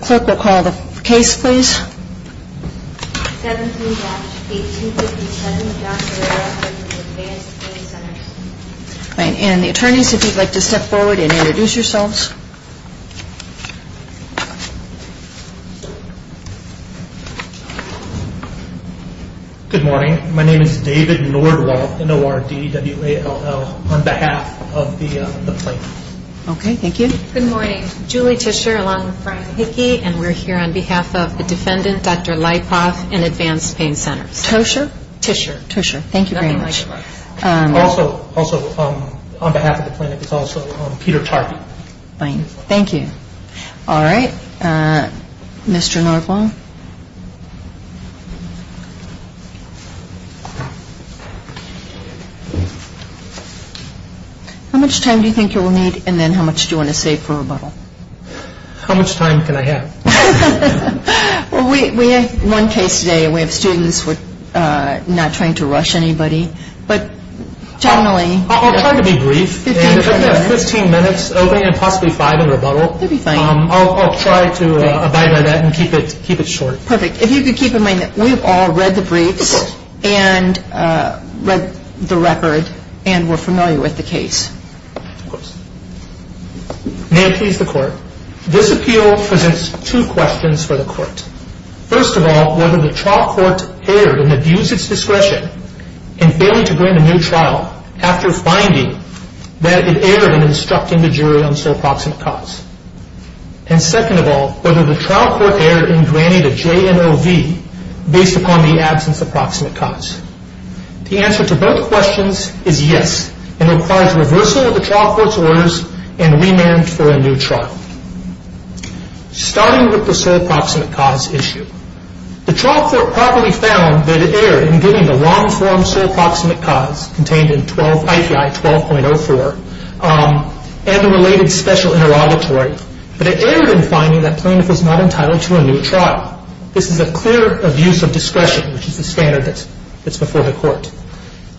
Court will call the case, please. And the attorneys, if you'd like to step forward and introduce yourselves. Good morning. My name is David Nordroth, N-O-R-D-W-A-L-L, on behalf of the website. Okay, thank you. Good morning. I'm Julie Tischer, along with Brian Hickey, and we're here on behalf of the defendants, Dr. Leipoff and Advanced Pain Centers. Tosha? Tischer. Tischer. Thank you very much. Also, on behalf of the plaintiff is also Peter Charton. Thank you. All right. Mr. Norvold? Thank you. How much time do you think you'll need, and then how much do you want to save for rebuttal? How much time can I have? We had one case today where students were not trying to rush anybody, but generally... I'll try to be brief, and we have 15 minutes, and possibly five in rebuttal. I'll try to abide by that and keep it short. Perfect. If you could keep in mind that we've all read the brief and read the record, and we're familiar with the case. Of course. May I please the court? This appeal presents two questions for the court. First of all, whether the trial court erred and abused its discretion in failing to grant a new trial after finding that it erred in instructing the jury on sole proximate cause. And second of all, whether the trial court erred in granting the JMOV based upon the absence of proximate cause. The answer to both questions is yes, and requires reversal of the trial court's orders and remand for a new trial. Starting with the sole proximate cause issue. The trial court probably found that it erred in getting a long-form sole proximate cause contained in 12-12.04 and a related special interrogatory. But it erred in finding that plaintiff was not entitled to a new trial. This is a clear abuse of discretion, which is the standard that's before the court.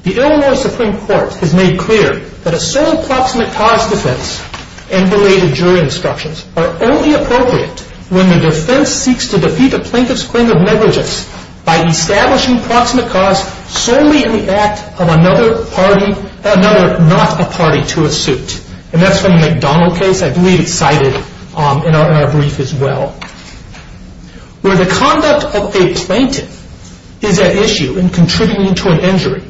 The Illinois Supreme Court has made clear that a sole proximate cause defense and related jury instructions are only appropriate when the defense seeks to defeat the plaintiff's claim of negligence by establishing proximate cause solely in the act of another not a party to a suit. And that's the McDonald case I believe cited in our brief as well. Where the conduct of a plaintiff is at issue in contributing to an injury,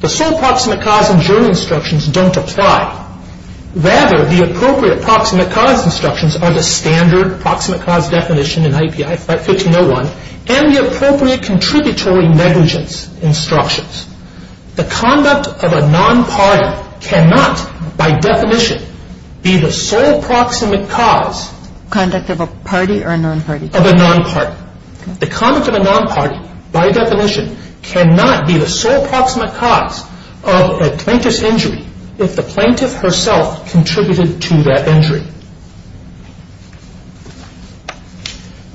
the sole proximate cause and jury instructions don't apply. Rather, the appropriate proximate cause instructions are the standard proximate cause definition in IPI 1501 and the appropriate contributory negligence instructions. The conduct of a non-party cannot, by definition, be the sole proximate cause of a plaintiff's injury if the plaintiff herself contributed to that injury.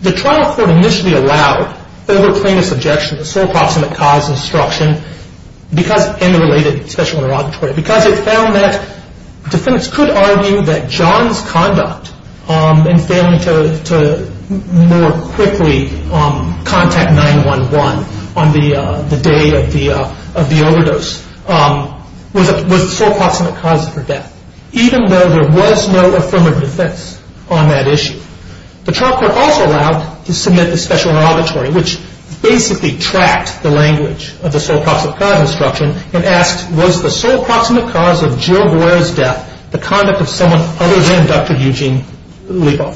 The trial court initially allowed overt plaintiff's objection to sole proximate cause instruction and related special interrogatory. Because it found that defense could argue that John's conduct in failing to more quickly contact 911 on the day of the overdose was sole proximate cause for death. Even though there was no affirmative defense on that issue. The trial court also allowed to submit a special interrogatory which basically tracked the language of the sole proximate cause instruction and asked, was the sole proximate cause of Jill Boyer's death the conduct of someone other than Dr. Eugene Legal?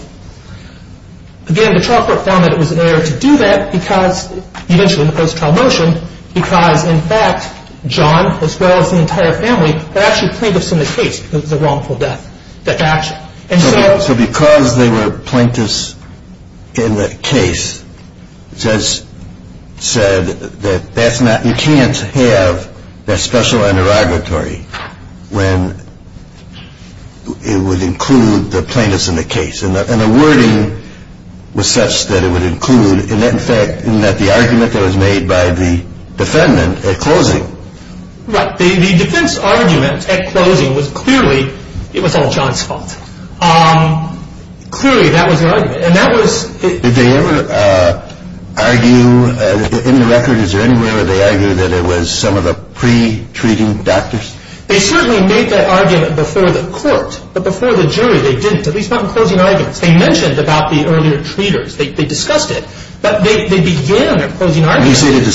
Again, the trial court found that it was inappropriate to do that because, you mentioned the post-trial motion, because, in fact, John, as well as the entire family, were actually plaintiffs in the case because of the wrongful death. So because they were plaintiffs in the case, it says that you can't have the special interrogatory when it would include the plaintiffs in the case. And the wording was such that it would include, in fact, the argument that was made by the defendant at closing. The defense argument at closing was clearly, it was all John's fault. Clearly, that was the argument. Did they ever argue, in the record, is there anywhere where they argue that it was some of the pre-treating doctors? They certainly made that argument before the court, but before the jury, they didn't. At least not in closing arguments. They mentioned about the earlier treaters. They discussed it. But they began at closing arguments. During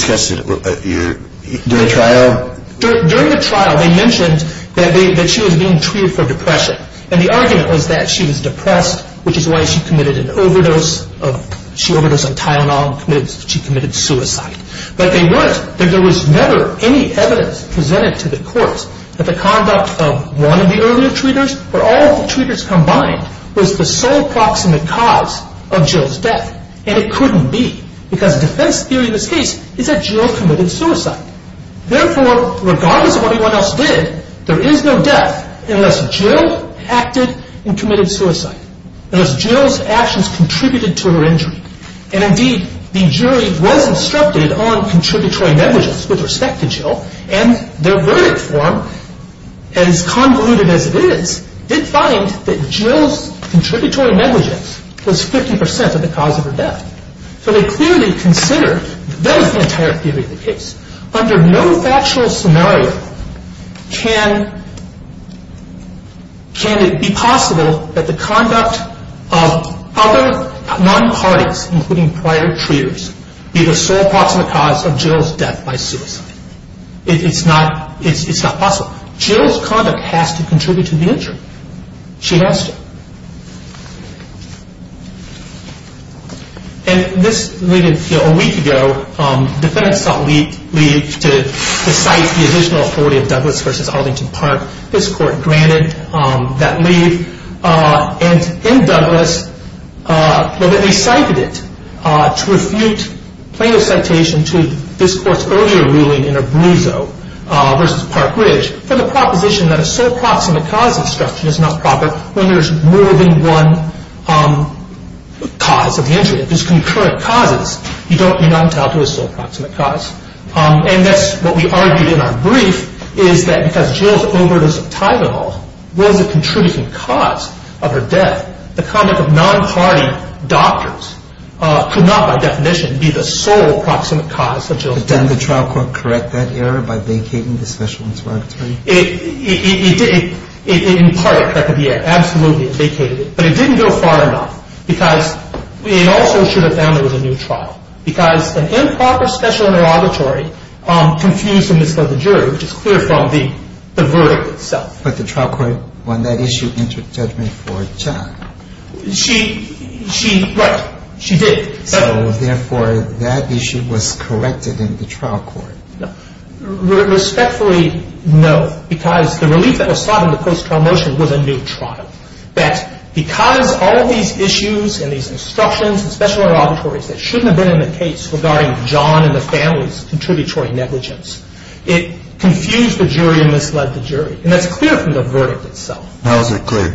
the trial? During the trial, they mentioned that she was being treated for depression. And the argument was that she was depressed, which is why she committed an overdose. She overdosed on Tylenol. She committed suicide. But there was never any evidence presented to the courts that the conduct of one of the earlier treaters, or all of the treaters combined, was the sole cause of Jill's death. And it couldn't be. The kind of defense theory we seek is that Jill committed suicide. Therefore, regardless of what anyone else did, there is no death unless Jill acted and committed suicide. Unless Jill's actions contributed to her injury. And indeed, the jury was instructed on contributory negligence with respect to Jill, and their verdict form, as convoluted as it is, did find that Jill's contributory negligence was 50% of the cause of her death. So the theory considers, that is the entire theory of the case, under no factual scenario can it be possible that the conduct of other non-parties, including prior treaters, be the sole possible cause of Jill's death by suicide. It's a puzzle. Jill's conduct has to contribute to the injury. She has to. And this was a week ago. Defense thought we needed to cite the original authority of Douglas v. Ellington Park. This court granted that lead. And in Douglas, they cited it to refute playing a citation to this court's earlier ruling in Abruzzo v. Park Ridge, from the proposition that a sole proximate cause of destruction is not proper when there is more than one cause of the injury. If there's concurrent causes, you don't renounce out to a sole proximate cause. And next, what we argue in our brief is that because Jill's overdose of Tylenol wouldn't have contributed to the cause of her death, the conduct of non-party doctors could not, by definition, be the sole proximate cause of Jill's death. Did then the trial court correct that error by vacating the special inventory? It in part corrected the error. Absolutely vacated it. But it didn't go far enough because it also should have ended with a new trial because the improper special inventory continues to mislead the jury, which is clearly a problem being the verdict itself. But the trial court on that issue interceded for Jack. She, right, she did. So, therefore, that issue was corrected in the trial court. Respectfully, no, because the relief that was sought in the post-trial motion was a new trial. That because of all these issues and these obstructions and special inventories that shouldn't have been in the case regarding John and the family's contributory negligence, it confused the jury and misled the jury. And that's clear from the verdict itself. How is it clear?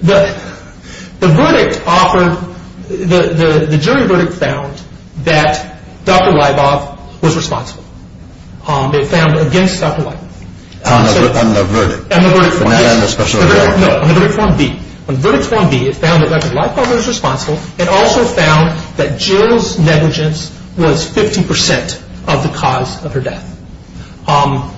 The verdict offered, the jury verdict found that Dr. Leibov was responsible. It found against Dr. Leibov. On the verdict? On the verdict 1B. On verdict 1B, it found that Dr. Leibov was responsible. It also found that Jill's negligence was 50% of the cause of her death.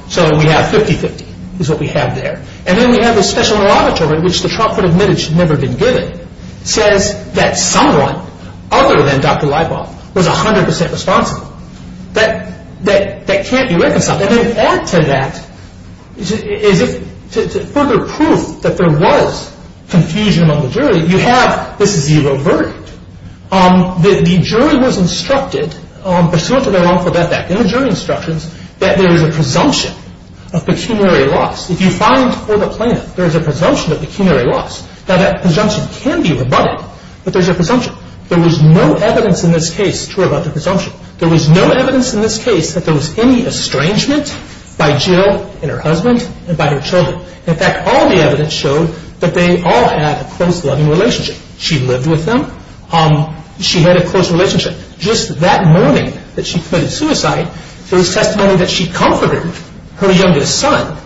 So we have 50-50 is what we have there. And then we have this special article in which the trial court admitted she'd never been guilty, says that someone other than Dr. Leibov was 100% responsible. That can't be recognized. I mean, after that, is it further proof that there was confusion among the jury? You have. This is the old verdict. The jury was instructed, there's something wrong about that, that there was a presumption of pecuniary loss. If you find for the plaintiff there's a presumption of pecuniary loss, now that presumption can be rebutted, but there's a presumption. There was no evidence in this case, it's true about the presumption, there was no evidence in this case that there was any estrangement by Jill and her husband and by her children. In fact, all the evidence showed that they all had a close, loving relationship. She lived with them. She had a close relationship. Just that morning that she committed suicide, there was testimony that she comforted her youngest son,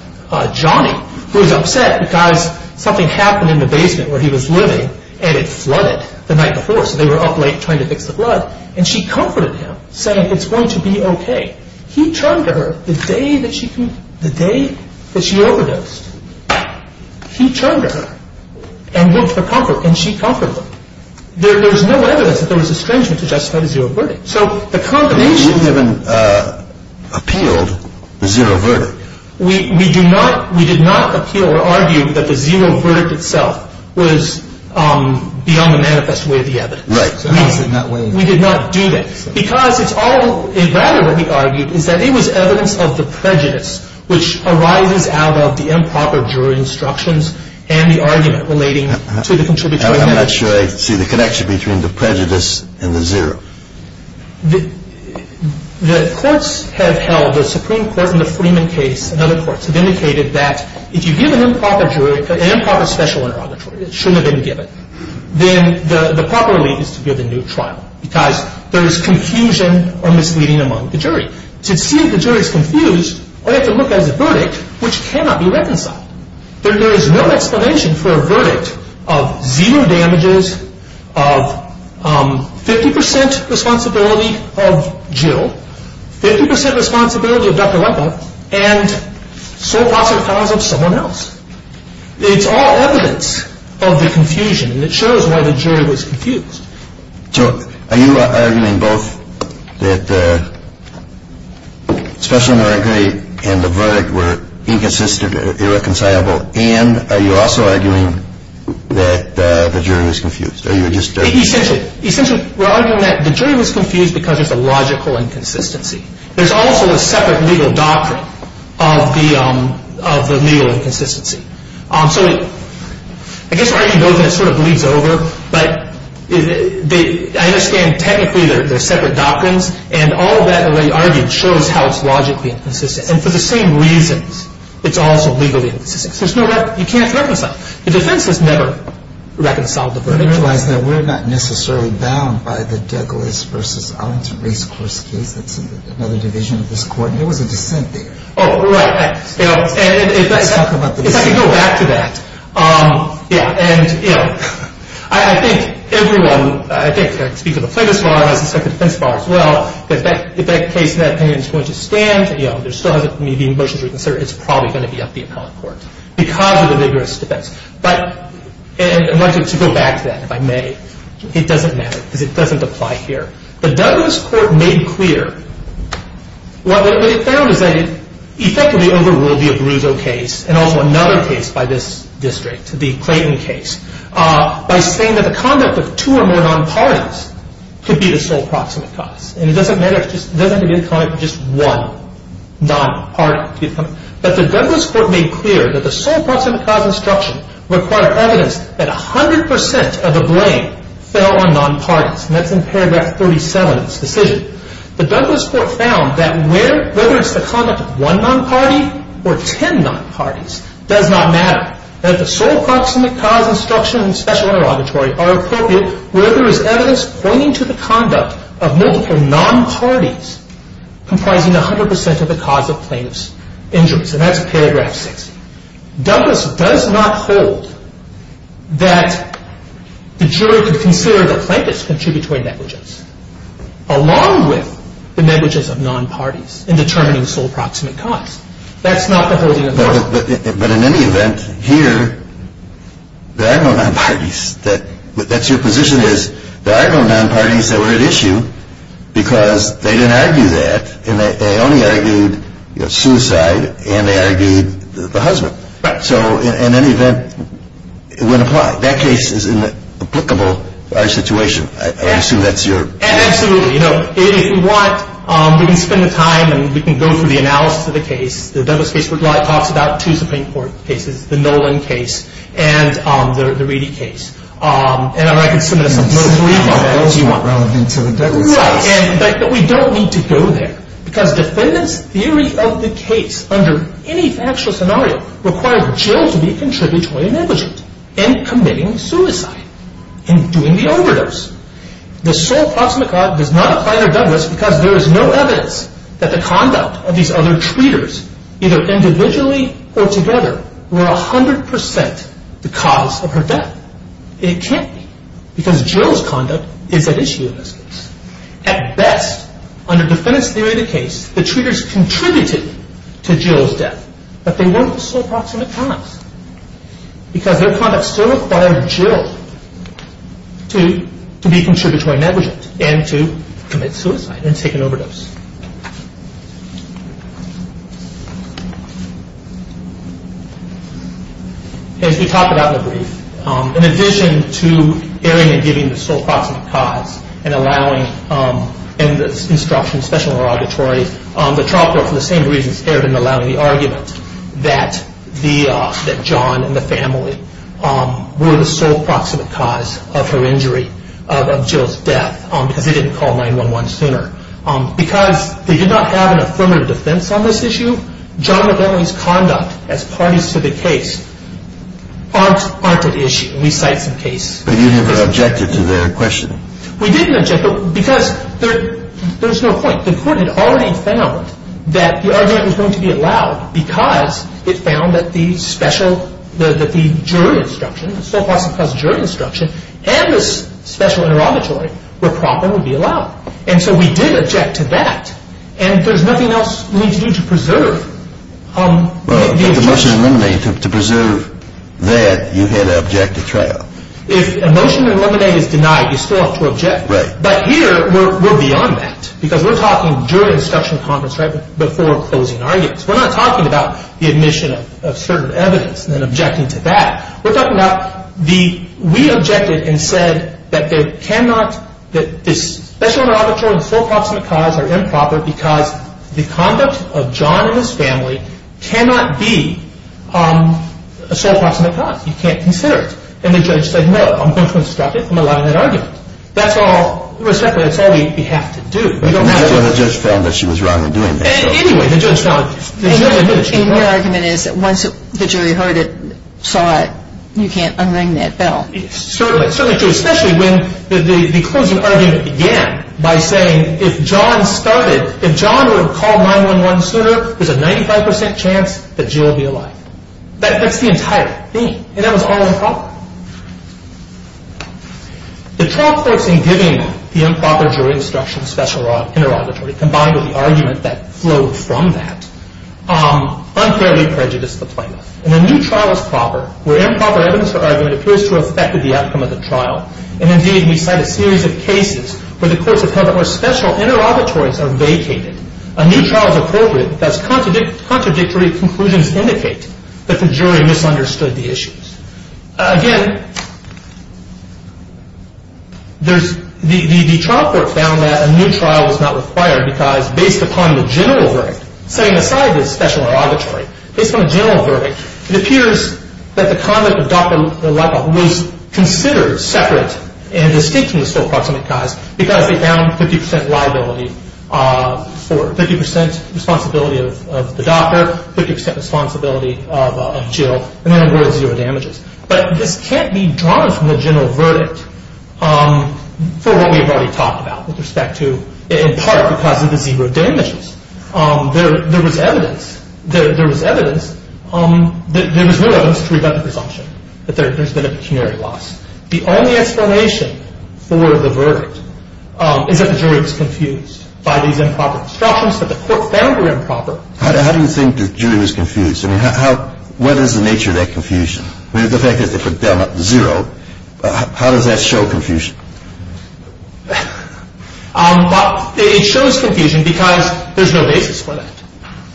Johnny, who was upset because something happened in the basement where he was living, and it flooded the night before, so they were up late trying to fix the flood, and she comforted him, saying it's going to be okay. He chugged her the day that she overdosed. He chugged her, and she comforted him. There was no evidence that there was an estrangement to the testimony of zero verdict. So the conclusion... We didn't even appeal the zero verdict. We did not appeal or argue that the zero verdict itself was beyond the manifest way of the evidence. Right. We did not do that, because it's all exactly what we argued, is that it was evidence of the prejudice which arises out of the improper jury instructions and the argument relating to the contradiction. I'm not sure I see the connection between the prejudice and the zero. The courts have held, the Supreme Court in the Freeman case and other courts, have indicated that if you give an improper jury, an improper special interrogatory, it shouldn't be given, then the proper lead is to give a new trial, because there is confusion or misleading among the jurors. To see the jurors confused, I have to look at the verdict, which cannot be reconciled. There is no explanation for a verdict of zero damages, of 50% responsibility of Jill, 50% responsibility of Dr. Weta, and sole author cause of someone else. It's all evidence of the confusion, and it shows why the jury was confused. So, are you arguing both that the special interrogatory and the verdict were inconsistent, irreconcilable, and are you also arguing that the jury was confused? Essentially, we're arguing that the jury was confused because of the logical inconsistency. There's also a separate legal doctrine of the legal inconsistency. So, I guess I'm going to sort of leap over, but I understand technically there's separate doctrines, and all of that, in the way you argue, shows how it's logically inconsistent. And for the same reasons, it's also legally inconsistent. There's no—you can't reconcile. The defense has never reconciled the verdict. I realize that we're not necessarily bound by the Deggars v. Owens case, which is another division of this court. They were defending it. Oh, right. And if I can go back to that. Yeah, and I think everyone—I think, excuse me, the plaintiff's bar, the defendant's bar as well— that that case, in that opinion, is going to stand. There still hasn't been a motion to reconsider. It's probably going to be up to the appellate court, because of the rigorous defense. And I'm going to go back to that, if I may. It doesn't matter. It doesn't apply here. The Douglas Court made clear—well, what they found is that it effectively overruled the Abruzzo case, and also another case by this district, the Clayton case, by saying that a conduct with two or more nonpartisans could be the sole proximate cause. And it doesn't matter if it's just one nonpartisan. But the Douglas Court made clear that the sole proximate cause instruction required evidence that 100% of the blame fell on nonpartisans. And that's in paragraph 37 of this decision. The Douglas Court found that whether it's the conduct of one nonparty or ten nonpartisans, it does not matter. That the sole proximate cause instruction and special auditory are appropriate where there is evidence pointing to the conduct of multiple nonpartisans comprising 100% of the cause of plaintiff's injuries. And that's paragraph 6. Douglas does not hold that the jury should consider the plaintiff's contributory negligence along with the negligence of nonpartisans in determining sole proximate cause. That's not the holding of Douglas. But in any event, here, there are no nonpartisans. That's your position is there are no nonpartisans that were at issue because they didn't argue that. They only argued suicide and they argued the husband. So in any event, that case is in the applicable situation. I assume that's your... Absolutely. If you want, we can spend the time and we can go through the analysis of the case. The Douglas case was last talked about. Two Supreme Court cases. The Nolan case and the Reedy case. And I'm not going to get into the most recent one. I don't see what relevance there is. Right. But we don't need to go there. Because defendant's theory of the case under any actual scenario requires Jill to be contributory negligence in committing suicide, in doing the overdose. The sole proximate cause was not either done with because there is no evidence that the conduct of these other treaters, either individually or together, were 100% the cause of her death. It can't be. Because Jill's conduct is at issue in this case. At best, under defendant's theory of the case, the treaters contributed to Jill's death. But they weren't the sole proximate cause. Because their conduct still required Jill to be contributory negligence and to commit suicide and take an overdose. And to talk about the brief. In addition to airing and giving the sole proximate cause and allowing, and the instruction is special and laudatory, the trial court, for the same reasons, aired and allowed the argument that John and the family were the sole proximate cause of her injury, of Jill's death, because they didn't call 911 sooner. Because they did not have an affirmative defense on this issue, John and the family's conduct as parties to the case, aren't at issue in these types of cases. But you didn't object to the question. We didn't object because there's no point. The court had already found that the argument was going to be allowed because it found that the special, the juror's instruction, the sole proximate cause juror's instruction, and the special and laudatory were properly allowed. And so we did object to that. And there's nothing else we need to preserve. Right. If a motion is eliminated, to preserve that, you get an objective trial. If a motion is eliminated, denied, you still have to object. Right. But here, we're beyond that. Because we're talking during discussion and comments, right before closing arguments. We're not talking about the admission of certain evidence and then objecting to that. We're talking about the, we objected and said that there cannot, that the special and laudatory and sole proximate cause are improper because the conduct of John and his family cannot be a sole proximate cause. You can't consider it. And the judge said, no, I'm going to instruct it and allow an argument. That's all receptivity we have to do. We don't have to. The judge found that she was wrong in doing that. Anyway, the judge found. The argument is that once the jury heard it, saw it, you can't unring that bell. Certainly, especially when the closing argument began by saying, if John started, if John would have called 911 sooner, there's a 95% chance that Jill would be alive. That's the entire thing. And that was all improper. The trial folks in giving the improper jury instruction special and laudatory, combined with the argument that flowed from that, unfairly prejudiced the plaintiff. And the new trial is proper, where improper evidence of argument appears to have affected the outcome of the trial. And, indeed, we find a series of cases where the purpose of having those special and laudatories are vacated. A new trial is appropriate because contradictory conclusions indicate that the jury misunderstood the issues. Again, the trial court found that a new trial was not required because, based upon the general verdict, setting aside the special and laudatory, based on the general verdict, it appears that the time at the doctor level was considered separate and distinct from the still proximate cause because they found 50% liability or 50% responsibility of the doctor, 50% responsibility of Jill, and there were zero damages. But it can't be drawn from the general verdict for what we've already talked about with respect to, in part, the fact that there were zero damages. There was evidence that there was no injury by defunction, that there's been a pecuniary loss. The only explanation for the verdict is that the jury was confused by these improper constructions, but the court found they were improper. How do you think the jury was confused? I mean, what is the nature of that confusion? The fact that it was down at zero, how does that show confusion? It shows confusion because there's no basis for that.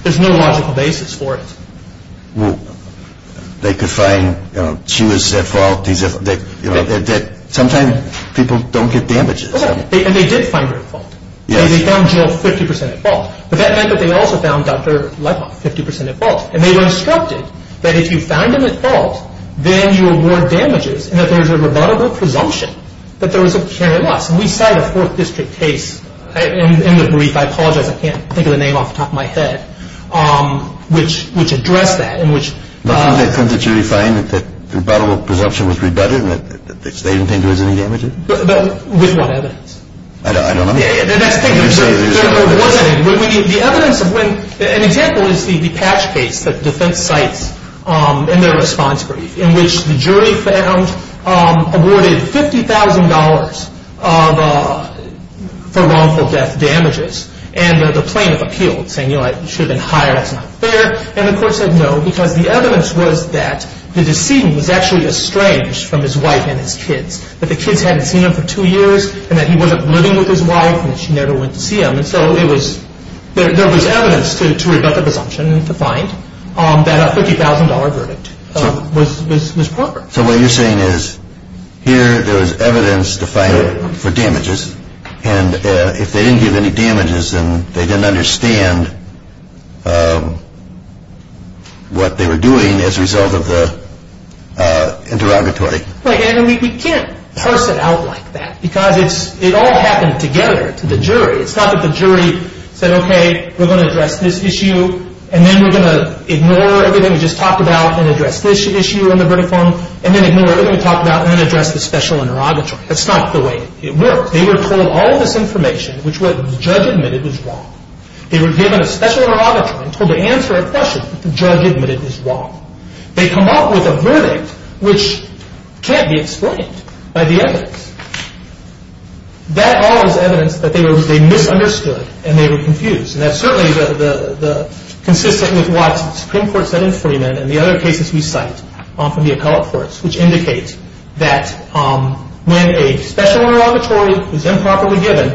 There's no logical basis for it. They could find she was at fault. Sometimes people don't get damages. And they did find her at fault. They found Jill 50% at fault. But that meant that they also found Dr. Lightman 50% at fault. And they were instructed that if you find them at fault, then you award damages and that there was a rebuttable presumption that there was a pecuniary loss. We've had a fourth district case in the brief. I apologize. I can't think of the name off the top of my head, which addressed that. When it comes to jury finding that the rebuttable presumption was rebutted, that the state didn't do any damages? With one evidence. I don't understand. The evidence of when... An example is the detached case, the defense case in the response brief in which the jury found awarded $50,000 for wrongful death damages. And there's a plaintiff appeal saying, you know what, you should have been hired. And the court said no. The evidence was that the decedent was actually estranged from his wife and his kids. But the kids hadn't seen him for two years and that he wasn't living with his wife and she never went to see him. And so there was evidence to rebut the presumption that a $50,000 verdict was proper. So what you're saying is here there was evidence to find for damages, and if they didn't do any damages, then they didn't understand what they were doing as a result of the interrogatory. We can't parse it out like that because it all happened together to the jury. It's not that the jury said, okay, we're going to address this issue and then we're going to ignore everything we just talked about and address this issue in the verdict form and then ignore everything we talked about and then address the special neurotoxin. That's not the way it works. They were told all this information, which was the judge admitted was wrong. They were given a special neurotoxin, told to answer a question, the judge admitted this is wrong. They come up with a verdict which can't be explained by the evidence. That all is evidence that they misunderstood and they were confused, and that's certainly consistent with what the Supreme Court sentence put him in and the other cases we cite from the appellate courts, which indicates that when a special interrogatory is improperly given,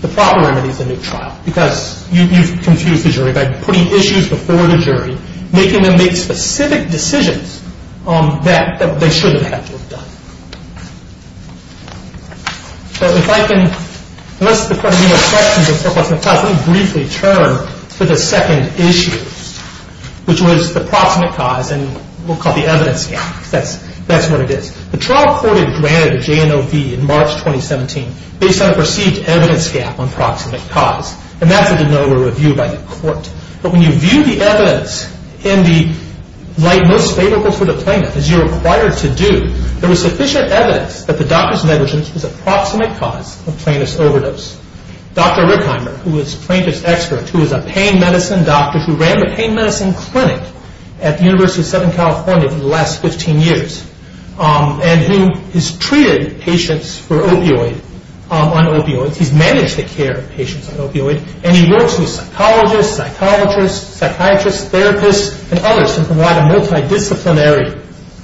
the father remedies the new trial because you confuse the jury by putting issues before the jury, making them make specific decisions that they shouldn't have to have done. Let's briefly turn to the second issue, which was the proximate cause and what we'll call the evidence gap. That's what it is. The trial court granted J&OB in March 2017 based on a perceived evidence gap on proximate cause, and that was a noted review by the court. But when you view the evidence in the light most favorable for the plaintiff, as you're required to do, there was sufficient evidence that the doctor's negligence was a proximate cause of plaintiff's overdose. Dr. Rickheimer, who is a plaintiff's expert, who is a pain medicine doctor, who ran a pain medicine clinic at the University of Southern California for the last 15 years, he's managed to care for patients on opioids, and he works with psychologists, psychiatrists, therapists, and others in a lot of multi-disciplinary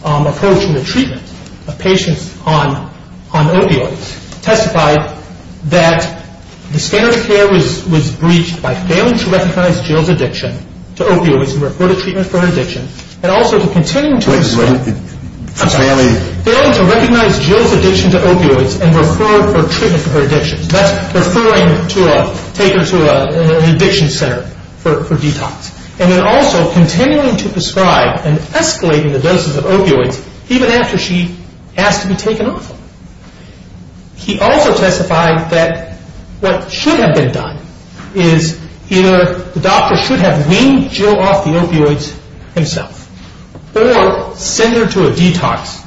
approaches in the treatment of patients on opioids. He testified that the standard of care was breached by failing to recognize Jill's addiction to opioids and to refer to treatment for addiction, and also to continue to recognize Jill's addiction to opioids and to refer to treatment for addiction. That's referring her to an addiction center for detox. And then also continuing to prescribe and escalate the doses of opioids even after she has to be taken off of them. He also testified that what should have been done is either the doctor should have weaned Jill off the opioids himself or send her to a detox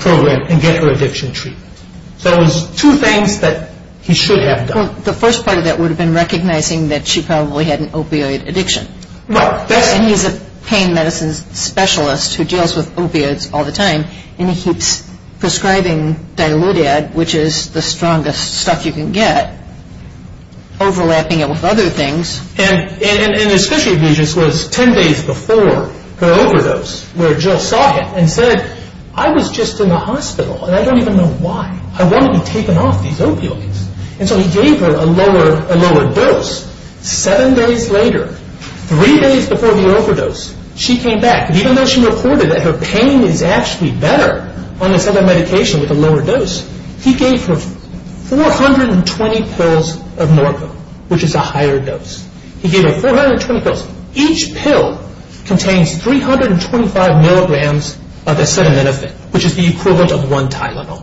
program and get her addiction treatment. So it was two things that he should have done. The first part of that would have been recognizing that she probably had an opioid addiction. And he's a pain medicine specialist who deals with opioids all the time, and he keeps prescribing Diludad, which is the strongest stuff you can get, overlapping it with other things. And his contribution was 10 days before her overdose, where Jill saw it and said, I was just in the hospital, and I don't even know why. I wanted to be taken off these opioids. And so he gave her a lower dose. Seven days later, three days before the overdose, she came back. Even though she reported that her pain was actually better on the side of medication with the lower dose, he gave her 420 pills of Morphine, which is the higher dose. He gave her 420 pills. Each pill contains 325 milligrams of acetaminophen, which is the equivalent of one Tylenol.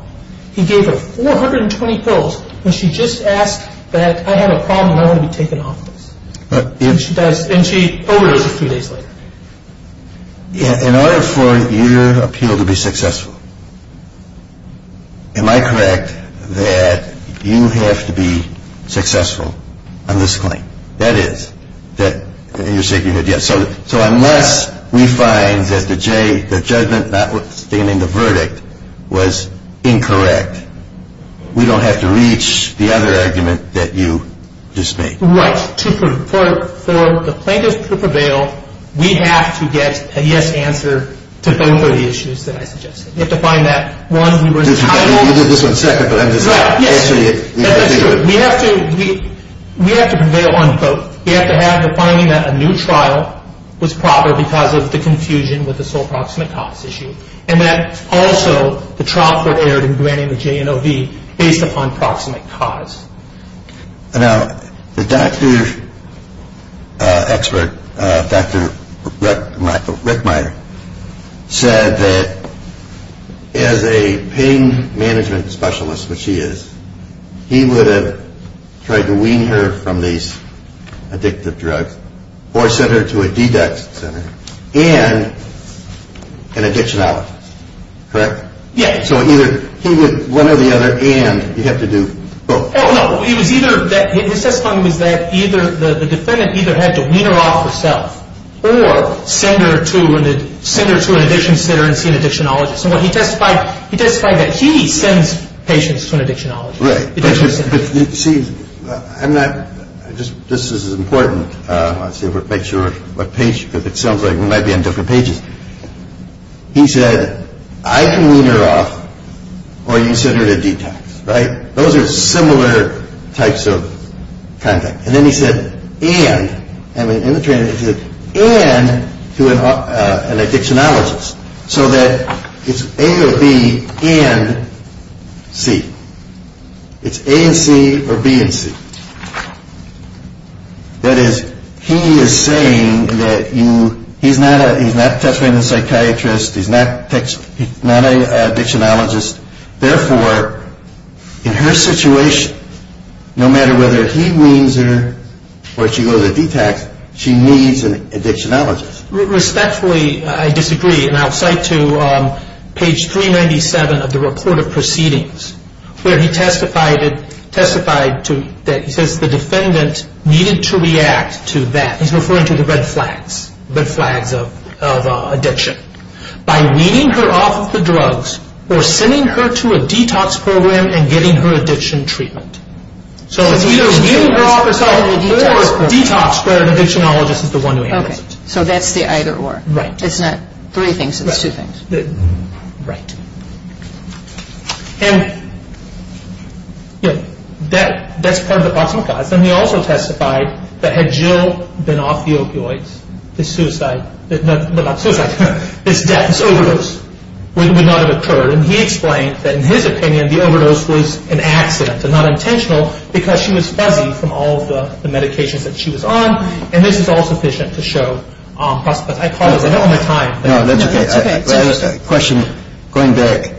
He gave her 420 pills when she just asked that I had a problem and I wanted to be taken off of this. And she overdosed three days later. In other words, you appeal to be successful. Am I correct that you have to be successful on this claim? That is. So unless we find that the judgment notwithstanding the verdict was incorrect, we don't have to reach the other argument that you just made. Right. For the plaintiff to prevail, we have to get a yes answer to some of the issues that I suggested. We have to find that one who was entitled. We have to prevail on both. We have to have the finding that a new trial was proper because of the confusion with the sole proximate cause issue, and that also the trial prepared in granting the JNLV based upon proximate cause. Now, the doctor expert, Dr. Rick Meyer, said that as a pain management specialist, which he is, he would have tried to wean her from these addictive drugs or send her to a detox center and an addiction office. Correct? Yes. So he would, one or the other, and he had to do both. No, no. He said something like that. The defendant either had to wean her off herself or send her to an addiction center and to an addiction office. He testified that he sent patients to an addiction office. Correct. See, this is important. I'll show you a picture of a patient. It sounds like we might be on different pages. He said, I can wean her off or you send her to detox. Right? Those are similar types of contract. And then he said, and, and in the training he said, and to an addiction office so that it's A or B and C. It's A and C or B and C. That is, he is saying that he's not a test random psychiatrist. He's not a addictionologist. Therefore, in her situation, no matter whether he weans her or she goes to detox, she needs a addictionologist. Respectfully, I disagree, and I'll cite to page 397 of the report of proceedings where he testified that the defendant needed to react to that. He's referring to the red flags of addiction. By weaning her off the drugs or sending her to a detox program and getting her addiction treatment. So it's either weaning her off herself or detox where an addictionologist is the one who handles it. Okay. So that's the either or. Right. It's not three things. It's two things. Right. And, you know, that's part of the parking lot. And he also testified that had Jill been off the opioids, the suicide, the death, the overdose would not have occurred. And he explained that, in his opinion, the overdose was an accident. It's not intentional because she was heavy from all of the medications that she was on, and this is all sufficient to show, I apologize, I don't have time. No, that's okay. I have a question. Going back,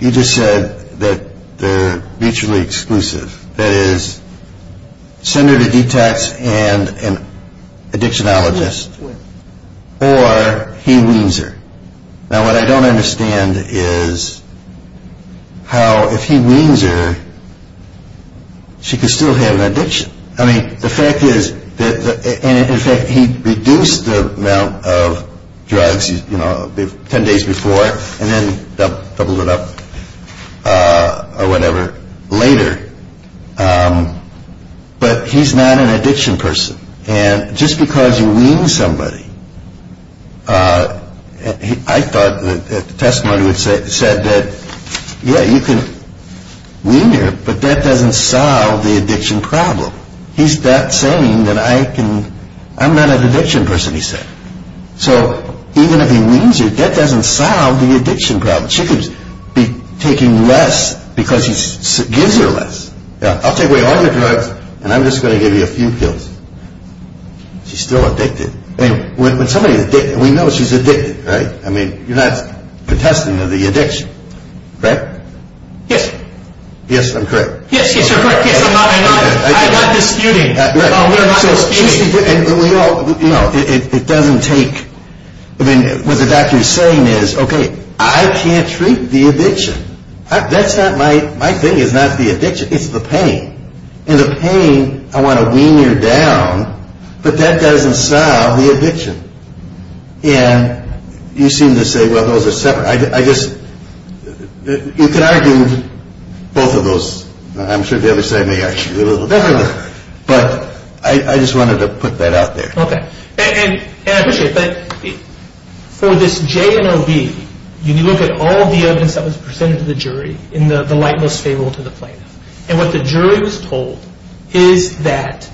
you just said that they're mutually exclusive. That is, send her to detox and addictionologist or he weans her. Now, what I don't understand is how if he weans her, she could still have an addiction. I mean, the fact is that he reduced the amount of drugs, you know, 10 days before and then doubled it up or whatever later. But he's not an addiction person. And just because he weans somebody, I thought the testimony said that, yeah, you can wean her, but that doesn't solve the addiction problem. He's not saying that I can, I'm not an addiction person, he's saying. So even if he weans you, that doesn't solve the addiction problem. She could be taking less because she's using less. Now, I'll take away all the drugs, and I'm just going to give you a few pills. She's still addicted. I mean, when somebody's addicted, we know she's addicted, right? I mean, you're not contesting of the addiction, right? Yes. Yes, I'm correct. Yes, yes, you're correct. I'm not disputing. I'm not disputing. You know, it doesn't take, I mean, what the doctor is saying is, okay, I can't treat the addiction. That's not my, my thing is not the addiction, it's the pain. And the pain, I want to wean her down, but that doesn't solve the addiction. And you seem to say, well, those are separate. I guess we can argue both of those. I'm sure the other side may actually be a little different. But I just wanted to put that out there. Okay. And I appreciate that. For this JMOB, you look at all the evidence that was presented to the jury in the light most favorable to the plaintiff. And what the jury was told is that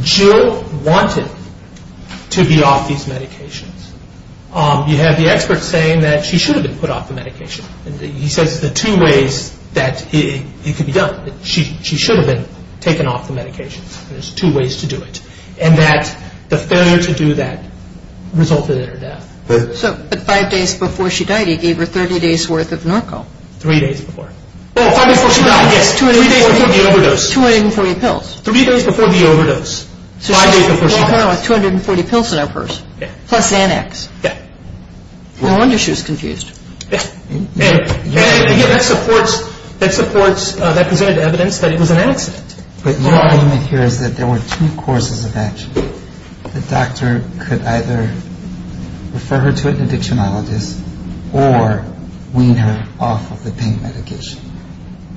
Jill wanted to be off these medications. You have the expert saying that she should have been put off the medications. He said the two ways that she should have been taken off the medications. There's two ways to do it. And that the failure to do that resulted in her death. So, but five days before she died, he gave her 30 days' worth of Narcol. Three days before. Oh, five days before she died, yes. Three days before the overdose. Two hundred and forty pills. Three days before the overdose. So, five days before she died. No, two hundred and forty pills in her purse. Yes. Plus NADX. Yes. No wonder she was confused. Yes. Yes. Yes, that supports that presented evidence that it was an accident. But your argument here is that there were two causes of death. The doctor could either refer her to an addictionologist or wean her off of the pain medication.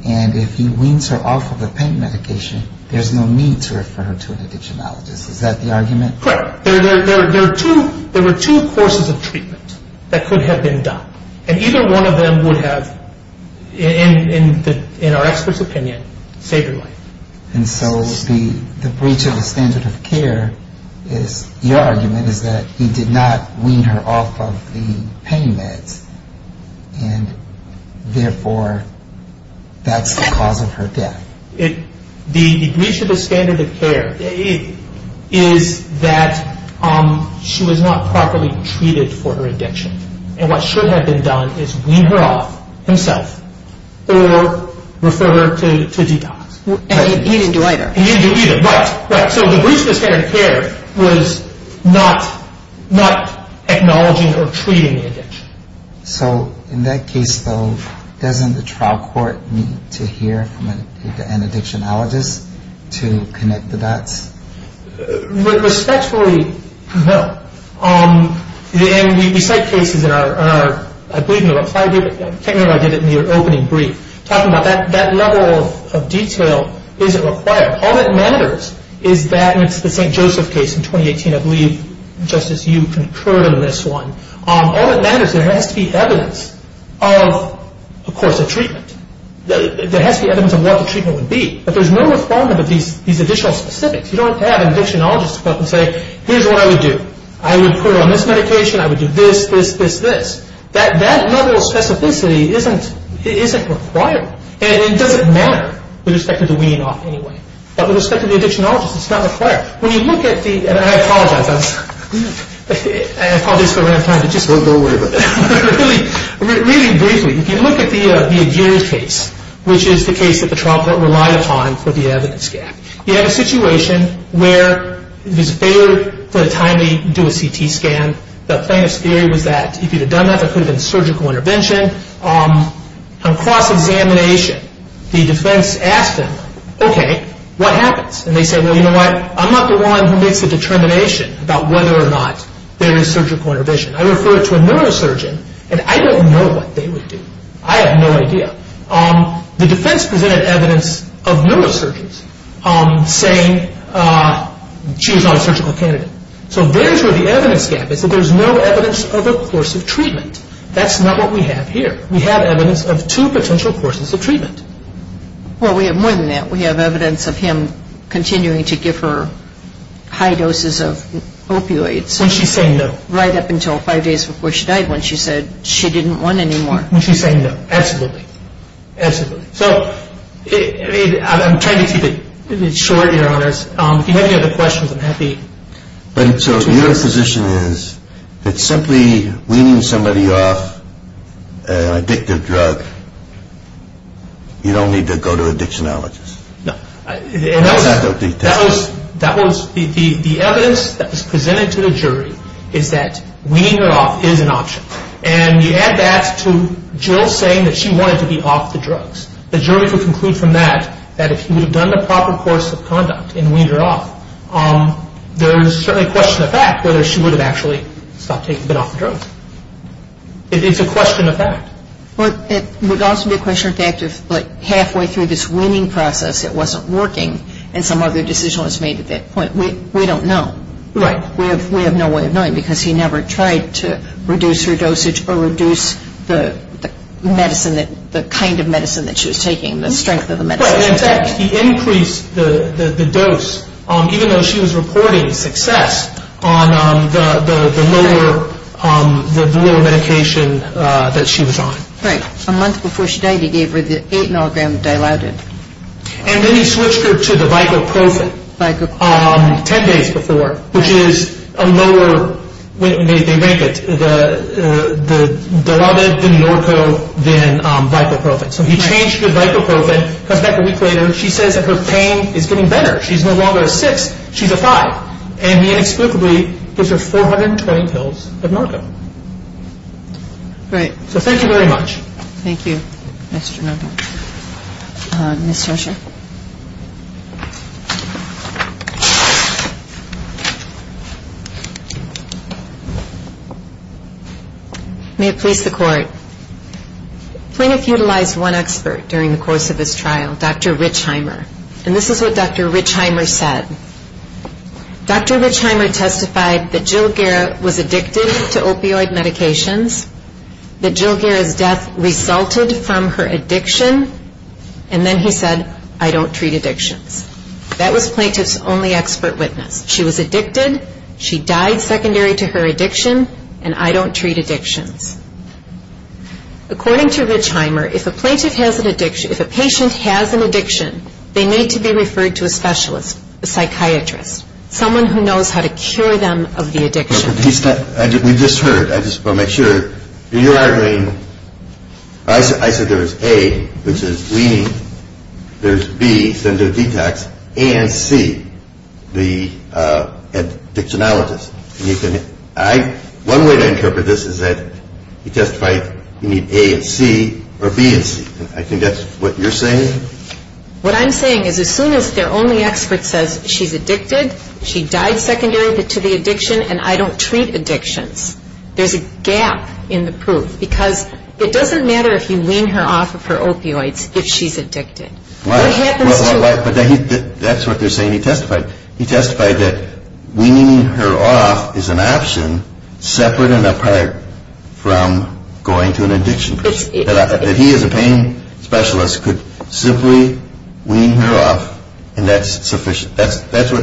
And if he weans her off of the pain medication, there's no need to refer her to an addictionologist. Is that the argument? Correct. There were two causes of treatment that could have been done. And either one of them would have, in our expert's opinion, saved her life. And so, the breach of the standard of care, your argument is that he did not wean her off of the pain meds. And therefore, that's the cause of her death. The breach of the standard of care is that she was not properly treated for her addiction. And what should have been done is wean her off himself or refer her to detox. And he didn't do either. And he didn't do either. Right. So, the breach of the standard of care was not acknowledging or treating the addiction. So, in that case, doesn't the trial court need to hear from an addictionologist to connect to that? Respectfully, no. Then, we cite cases that are a technical argument in your opening brief. Talking about that level of detail isn't required. All that matters is that in the St. Joseph case in 2018, I believe, Justice, you concurred on this one. All that matters is there has to be evidence of, of course, the treatment. There has to be evidence of what the treatment would be. But there's no requirement to be additional specifics. You don't have an addictionologist come up and say, here's what I would do. I would put on this medication. I would do this, this, this, this. That level of specificity isn't required. And it doesn't matter with respect to the wean-off anyway. But with respect to the addictionologist, it's not a fact. When you look at the – and I apologize. I apologize for running out of time. It just won't go away. But really, really briefly, if you look at the Adherence case, which is the case that the trial court relied upon for the evidence gap, you have a situation where it was favored for the time they do a CT scan. The famous theory was that if you had done that, that would have been surgical intervention. On cross-examination, the defense asked them, okay, what happens? And they said, well, you know what? I'm not the one who makes the determination about whether or not there is surgical intervention. I refer to a neurosurgeon, and I don't know what they would do. I have no idea. The defense presented evidence of neurosurgeons saying she was not a surgical candidate. So there's where the evidence gap is that there's no evidence of a course of treatment. That's not what we have here. We have evidence of two potential courses of treatment. Well, we have more than that. We have evidence of him continuing to give her high doses of opioids. When she's saying no. Right up until five days before she died when she said she didn't want any more. When she's saying no. Absolutely. Absolutely. So I'm trying to keep it short, to be honest. If you have any other questions, I'm happy. So your position is that simply weaning somebody off an addictive drug, you don't need to go to a dictionologist? No. That was the evidence that was presented to the jury is that weaning her off is an option. And you add that to Jill saying that she wanted to be off the drugs. The jury would conclude from that that if you had done the proper course of conduct and weaned her off, there's certainly a question of fact whether she would have actually stopped taking the drugs. It's a question of fact. It would also be a question of fact if halfway through this weaning process it wasn't working and some other decision was made at that point. We don't know. Right. We have no way of knowing because she never tried to reduce her dosage or reduce the kind of medicine that she was taking, the strength of the medicine. Right. In fact, he increased the dose even though she was reporting success on the newer medication that she was on. Right. A month before she died he gave her the 8-milligram dilaudid. And then he switched her to the Vicoprofen 10 days before, which is a lower dilaudid than Norco than Vicoprofen. So he changed her to Vicoprofen. In fact, a week later she says that her pain is getting better. She's no longer a cyst. She's a thigh. And he inscrutably gives her 412 pills of Norco. Right. So thank you very much. Thank you. Next we have Ms. Tresher. May it please the Court. Plaintiff utilized one expert during the course of this trial, Dr. Richheimer. And this is what Dr. Richheimer said. Dr. Richheimer testified that Jill Gehr was addicted to opioid medications, that Jill Gehr's death resulted from her addiction, and then he said, I don't treat addiction. That was Plaintiff's only expert witness. She was addicted. She died secondary to her addiction, and I don't treat addiction. According to Richheimer, if a patient has an addiction, they need to be referred to a specialist, a psychiatrist, someone who knows how to cure them of the addiction. We just heard it. I just want to make sure. You're arguing, I said there's A, which is bleeding. There's B, sender detox, and C, the addictionologist. One way to interpret this is that he testified you need A and C or B and C. I think that's what you're saying. What I'm saying is as soon as their only expert says she's addicted, she died secondary to the addiction, and I don't treat addiction, there's a gap in the proof, because it doesn't matter if you wean her off of her opioids that she's addicted. Right, but that's what you're saying. He testified that weaning her off is an option separate and apart from going to an addiction. If he as a pain specialist could simply wean her off, and that's sufficient. That's what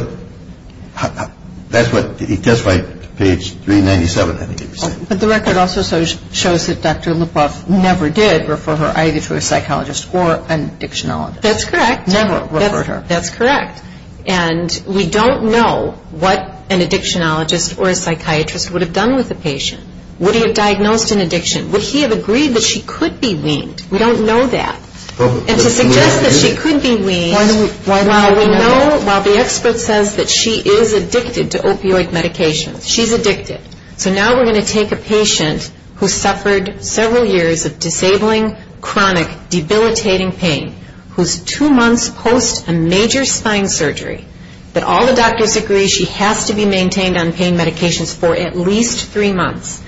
he testified, page 397, I think he said. The record also shows that Dr. Lipoff never did refer her either to a psychologist or an addictionologist. That's correct. Never referred her. That's correct. And we don't know what an addictionologist or a psychiatrist would have done with the patient. Would he have diagnosed an addiction? Would he have agreed that she could be weaned? We don't know that. And to suggest that she could be weaned, we know while the expert says that she is addicted to opioid medications, she's addicted. So now we're going to take a patient who suffered several years of disabling, chronic, debilitating pain, who's two months post a major spine surgery, but all the doctors agree she has to be maintained on pain medications for at least three months.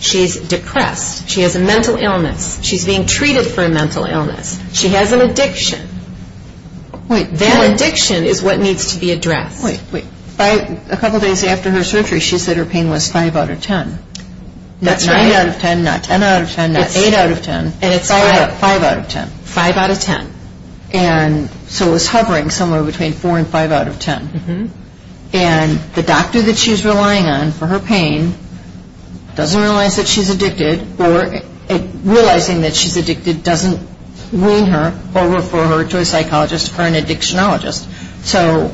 She's depressed. She has a mental illness. She's being treated for a mental illness. She has an addiction. Wait. That addiction is what needs to be addressed. Wait, wait. A couple days after her surgery, she said her pain was 5 out of 10. Not 10 out of 10, not 10 out of 10. It's 8 out of 10. And it's 5 out of 10. 5 out of 10. 5 out of 10. And so it's hovering somewhere between 4 and 5 out of 10. And the doctor that she's relying on for her pain doesn't realize that she's addicted or realizing that she's addicted doesn't wean her or refer her to a psychologist or an addictionologist. So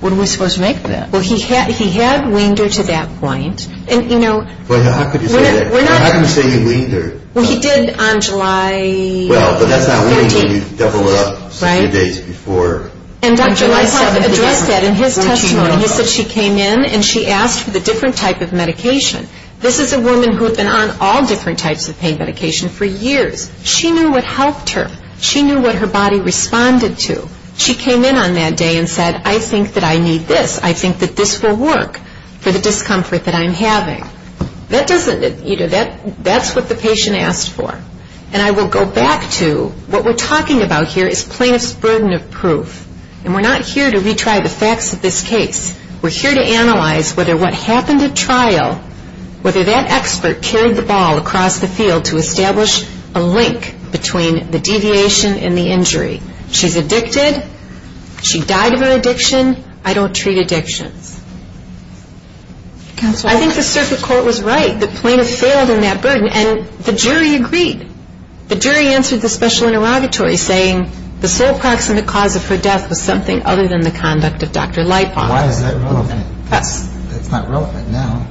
what are we supposed to make of that? Well, he had weaned her to that point. And, you know, we're not going to say he weaned her. Well, he did on July 18th. Well, that's not weaned. She definitely went up a few days before. And Dr. Lysol addressed that in his testimony. He said she came in and she asked the different type of medication. This is a woman who had been on all different types of pain medication for years. She knew what helped her. She knew what her body responded to. She came in on that day and said, I think that I need this. I think that this will work for the discomfort that I'm having. That doesn't, you know, that's what the patient asked for. And I will go back to what we're talking about here is plaintiff's burden of proof. And we're not here to retry the facts of this case. We're here to analyze whether what happened at trial, whether that expert carried the ball across the field to establish a link between the deviation and the injury. She's addicted. She died of her addiction. I don't treat addiction. I think the surface court was right. The plaintiff failed in that burden. And the jury agreed. The jury answered the special interrogatory saying, the full proximate cause of her death was something other than the conduct of Dr. Leifoff. Why is that relevant? It's not relevant now.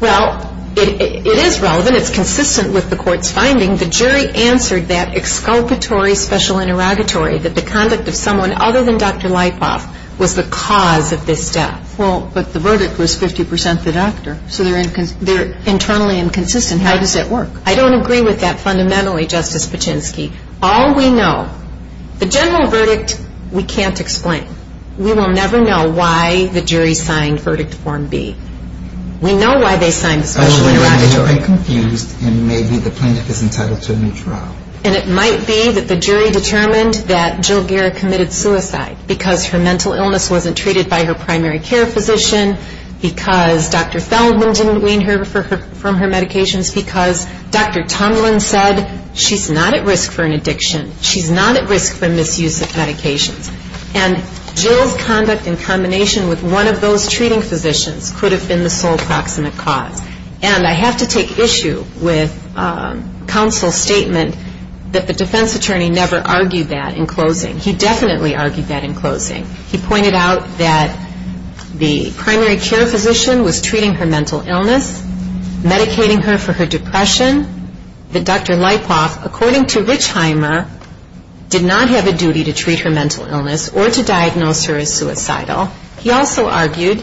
Well, it is relevant. It's consistent with the court's findings. The jury answered that exculpatory special interrogatory, that the conduct of someone other than Dr. Leifoff was the cause of this death. Well, but the verdict was 50% the doctor. So they're internally inconsistent. How does that work? I don't agree with that fundamentally, Justice Paczynski. All we know, the general verdict, we can't explain. We will never know why the jury signed Verdict Form B. We know why they signed Verdict Form A. And maybe the plaintiff is entitled to a new trial. And it might be that the jury determined that Jill Geer committed suicide because her mental illness wasn't treated by her primary care physician, because Dr. Selzman didn't wean her from her medications, because Dr. Tomlin said she's not at risk for an addiction. She's not at risk for misuse of medications. And Jill's conduct in combination with one of those treating physicians could have been the sole proximate cause. And I have to take issue with counsel's statement that the defense attorney never argued that in closing. He definitely argued that in closing. He pointed out that the primary care physician was treating her mental illness, medicating her for her depression, that Dr. Leipoff, according to Richheimer, did not have a duty to treat her mental illness or to diagnose her as suicidal. He also argued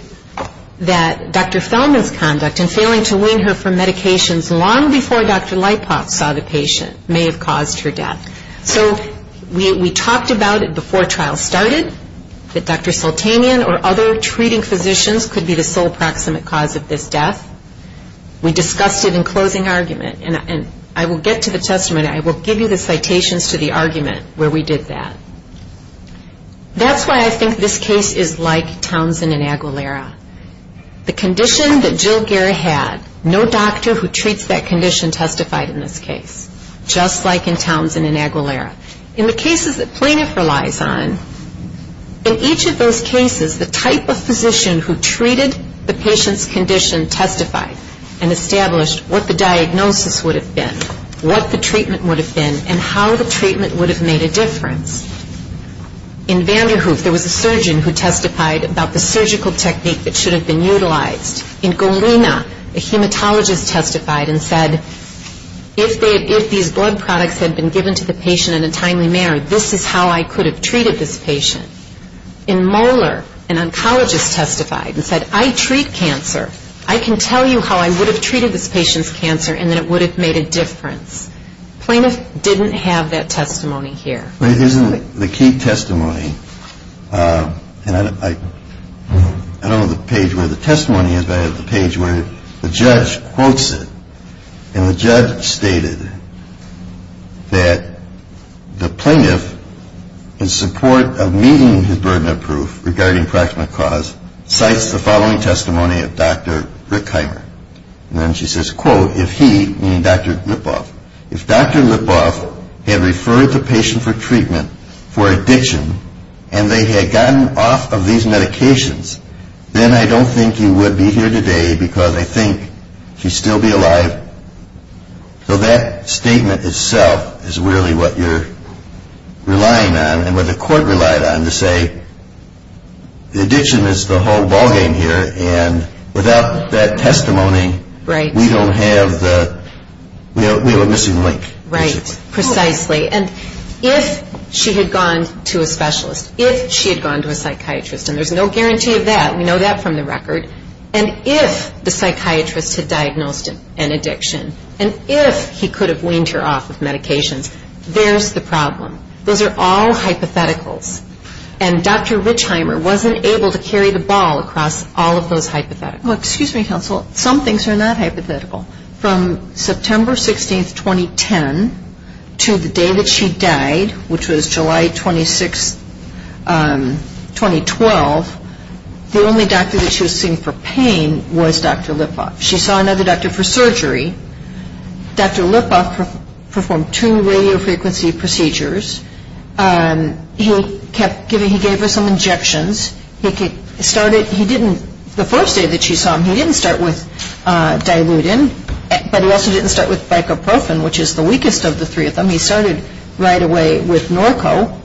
that Dr. Selzman's conduct in failing to wean her from medications long before Dr. Leipoff saw the patient may have caused her death. So we talked about it before trial started, that Dr. Sultanian or other treating physicians could be the sole proximate cause of this death. We discussed it in closing argument. And I will get to the testament. I will give you the citations to the argument where we did that. That's why I think this case is like Townsend and Aguilera. The condition that Jill Guerra had, no doctor who treats that condition testified in this case, just like in Townsend and Aguilera. In the cases that plaintiff relies on, in each of those cases, the type of physician who treated the patient's condition testified and established what the diagnosis would have been, what the treatment would have been, and how the treatment would have made a difference. In Vanderhoof, there was a surgeon who testified about the surgical technique that should have been utilized. In Golina, a hematologist testified and said, if these blood products had been given to the patient in the time we married, this is how I could have treated this patient. In Moeller, an oncologist testified and said, I treat cancer. I can tell you how I would have treated this patient's cancer and that it would have made a difference. Plaintiff didn't have that testimony here. The key testimony, and I don't have the page where the testimony is, but I have the page where the judge quotes it. And the judge stated that the plaintiff, in support of meeting his burden of proof regarding fractional cause, cites the following testimony of Dr. Rick Heimer. And then she says, quote, if he, meaning Dr. Ripoff, if Dr. Ripoff had referred the patient for treatment for addiction and they had gotten off of these medications, then I don't think you would be here today because I think she'd still be alive. So that statement itself is really what you're relying on and what the court relied on to say the addiction is the whole ballgame here and without that testimony we don't have the missing link. Right, precisely. And if she had gone to a specialist, if she had gone to a psychiatrist, and there's no guarantee of that. We know that from the record. And if the psychiatrist had diagnosed an addiction and if he could have weaned her off of medication, there's the problem. Those are all hypotheticals. And Dr. Rick Heimer wasn't able to carry the ball across all of those hypotheticals. Well, excuse me, counsel. Some things are not hypothetical. From September 16, 2010 to the day that she died, which was July 26, 2012, the only doctor that she was seeing for pain was Dr. Lippoff. She saw another doctor for surgery. Dr. Lippoff performed two radiofrequency procedures. He gave her some injections. The first day that she saw him, he didn't start with dilutin, but he also didn't start with bicloprofen, which is the weakest of the three of them. He started right away with Norco.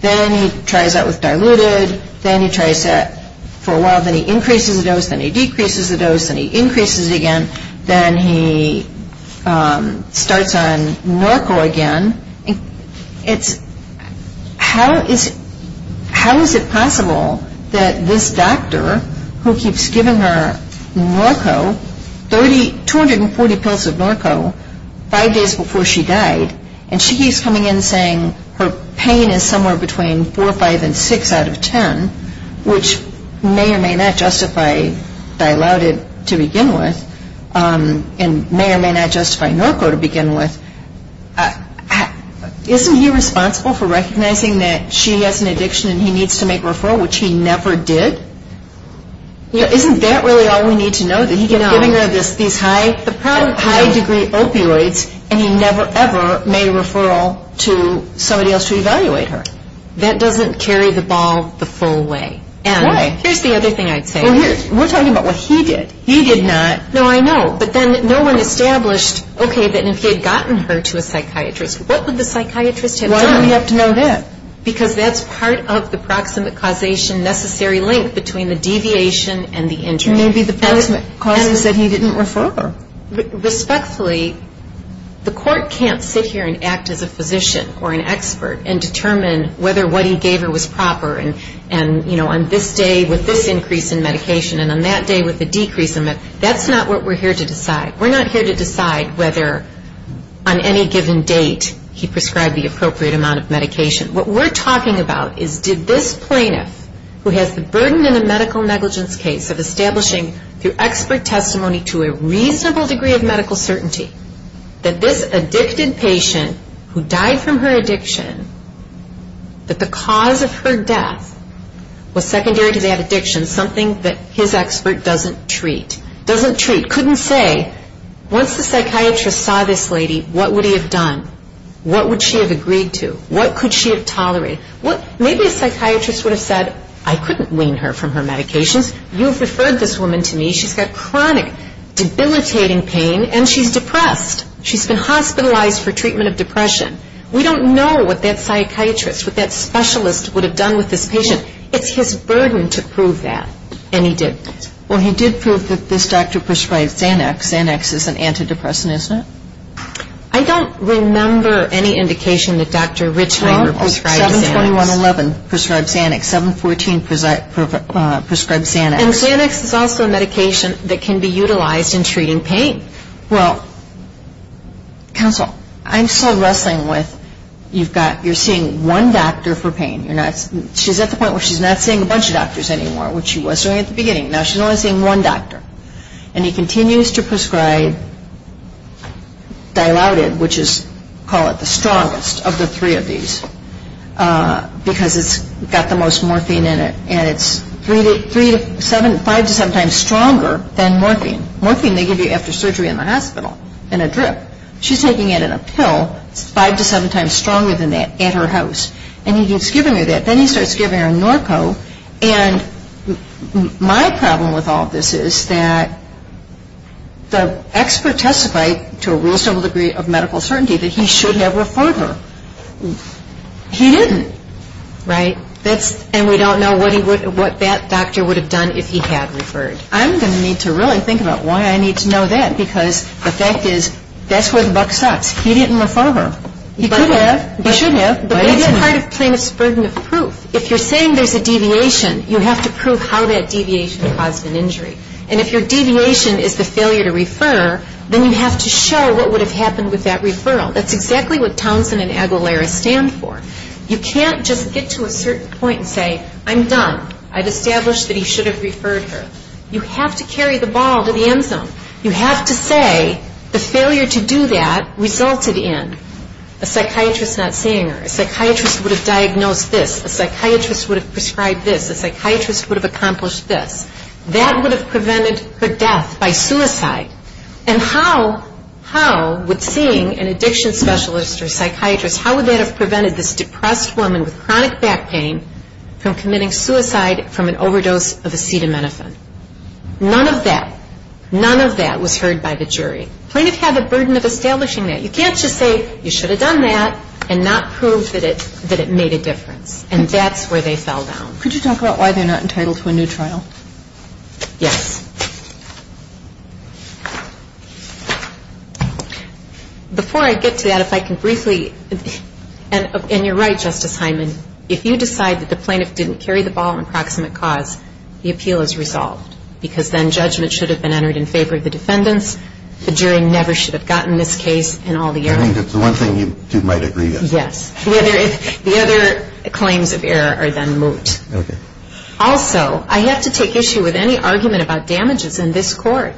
Then he tries that with diluted. Then he tries that for a while. Then he increases the dose. Then he decreases the dose. Then he increases it again. Then he starts on Norco again. How is it possible that this doctor, who keeps giving her Norco, 240 pills of Norco five days before she died, and she keeps coming in saying her pain is somewhere between 4, 5, and 6 out of 10, which may or may not justify diluted to begin with and may or may not justify Norco to begin with. Isn't he responsible for recognizing that she has an addiction and he needs to make referral, which he never did? Isn't that really all we need to know? He gives her these high-degree opioids, and he never, ever made referral to somebody else to evaluate her. That doesn't carry the ball the full way. Why? Here's the other thing I'd say. We're talking about what he did. He did not. No, I know. But then no one established, okay, that if he had gotten her to a psychiatrist, what would the psychiatrist have done? Why do we have to know that? Because that's part of the proximate causation necessary link between the deviation and the injury. And maybe the proximate cause is that he didn't refer her. Respectfully, the court can't sit here and act as a physician or an expert and determine whether what he gave her was proper and on this day was this increase in medication and on that day was the decrease in medication. That's not what we're here to decide. We're not here to decide whether on any given date he prescribed the appropriate amount of medication. What we're talking about is did this plaintiff, who has the burden in a medical negligence case, of establishing through expert testimony to a reasonable degree of medical certainty that this addicted patient who died from her addiction, that the cause of her death was secondary to that addiction, something that his expert doesn't treat, couldn't say, once the psychiatrist saw this lady, what would he have done? What would she have agreed to? What could she have tolerated? Maybe a psychiatrist would have said, I couldn't wean her from her medication. You've referred this woman to me. She's had chronic debilitating pain and she's depressed. She's been hospitalized for treatment of depression. We don't know what that psychiatrist, what that specialist would have done with this patient. It's his burden to prove that, and he did. Well, he did prove that this doctor prescribed Xanax. Xanax is an antidepressant, isn't it? I don't remember any indication that Dr. Richland prescribed Xanax. 7-21-11 prescribed Xanax. 7-14 prescribed Xanax. And Xanax is also a medication that can be utilized in treating pain. Well, counsel, I'm still wrestling with, you're seeing one doctor for pain. She's at the point where she's not seeing a bunch of doctors anymore, which she was during the beginning. Now she's only seeing one doctor. And he continues to prescribe Dilaudid, which is, call it the strongest of the three of these, because it's got the most morphine in it. And it's five to seven times stronger than morphine. Morphine they give you after surgery in the hospital in a drip. She's taking it in a pill five to seven times stronger than that in her house. And he keeps giving her that. Then he starts giving her Norco. And my problem with all this is that the expert testified, to a reasonable degree of medical certainty, that he should have referred her. He didn't. Right. And we don't know what that doctor would have done if he had referred. I'm going to need to really think about why I need to know that, because the fact is that's where the buck stops. He didn't refer her. He could have. He shouldn't have. But it's hard to claim it's a burden of proof. If you're saying there's a deviation, you have to prove how that deviation caused the injury. And if your deviation is the failure to refer, then you have to show what would have happened with that referral. That's exactly what Townsend and Aguilera stand for. You can't just get to a certain point and say, I'm done. I've established that he should have referred her. You have to carry the ball to the end zone. You have to say the failure to do that resulted in a psychiatrist not seeing her. A psychiatrist would have diagnosed this. A psychiatrist would have prescribed this. A psychiatrist would have accomplished this. That would have prevented her death by suicide. And how would seeing an addiction specialist or psychiatrist, how would that have prevented this depressed woman with chronic back pain from committing suicide from an overdose of acetaminophen? None of that. None of that was heard by the jury. Claimants have a burden of establishing that. You can't just say, you should have done that and not prove that it made a difference. And that's where they fall down. Could you talk about why they're not entitled to a new trial? Yes. Before I get to that, if I can briefly, and you're right, Justice Hyman, if you decide that the plaintiff didn't carry the ball on proximate cause, the appeal is resolved. Because then judgment should have been entered in favor of the defendants. The jury never should have gotten this case and all the others. It's the one thing you two might agree on. Yes. The other claims of error are then moved. Also, I have to take issue with any argument about damages in this court.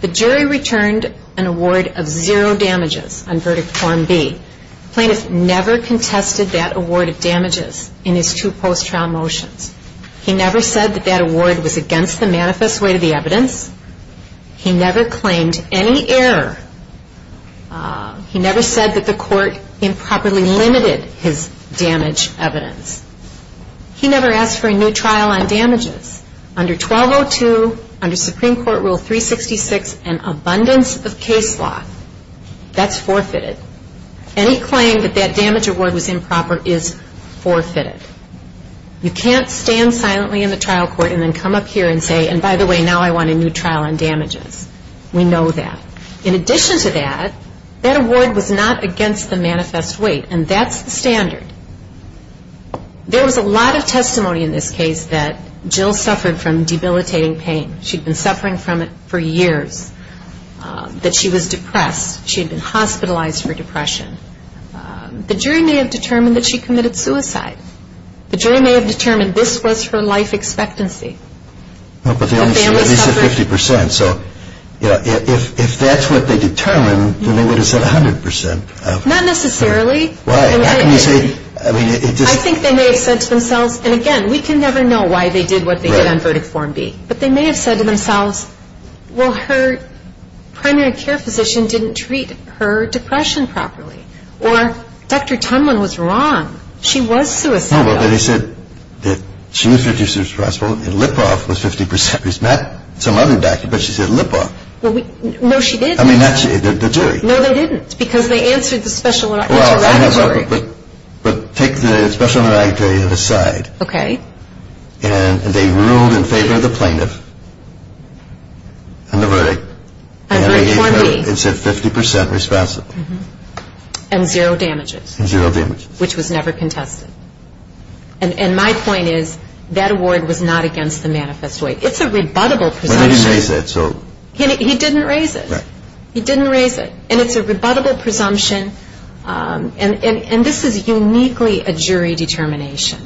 The jury returned an award of zero damages on verdict form B. The plaintiff never contested that award of damages in his two post-trial motions. He never said that that award was against the manifest way of the evidence. He never claimed any error. He never said that the court improperly limited his damage evidence. He never asked for a new trial on damages. Under 1202, under Supreme Court Rule 366, an abundance of case law, that's forfeited. Any claim that that damage award was improper is forfeited. You can't stand silently in the trial court and then come up here and say, and by the way, now I want a new trial on damages. We know that. In addition to that, that award was not against the manifest way, and that's the standard. There was a lot of testimony in this case that Jill suffered from debilitating pain. She'd been suffering from it for years, that she was depressed. She had been hospitalized for depression. The jury may have determined that she committed suicide. The jury may have determined this was her life expectancy. This is 50 percent, so if that's what they determined, then they would have said 100 percent. Not necessarily. I think they may have said to themselves, and again, we can never know why they did what they did on verdict form B. But they may have said to themselves, well, her primary care physician didn't treat her depression properly. Or Dr. Tenwin was wrong. She was suicidal. No, but they said that she was 50 percent responsible, and lip-off was 50 percent responsible. Not some other doctor, but she said lip-off. No, she didn't. I mean, actually, the jury. No, they didn't, because they answered the special auditory. Well, take the special auditory to the side. Okay. And they ruled in favor of the plaintiff on the verdict. On verdict form B. And said 50 percent responsible. And zero damages. Zero damages. Which was never contested. And my point is, that award was not against the manifest way. It's a rebuttable presumption. But he didn't raise that, so. He didn't raise it. He didn't raise it. And it's a rebuttable presumption. And this is uniquely a jury determination.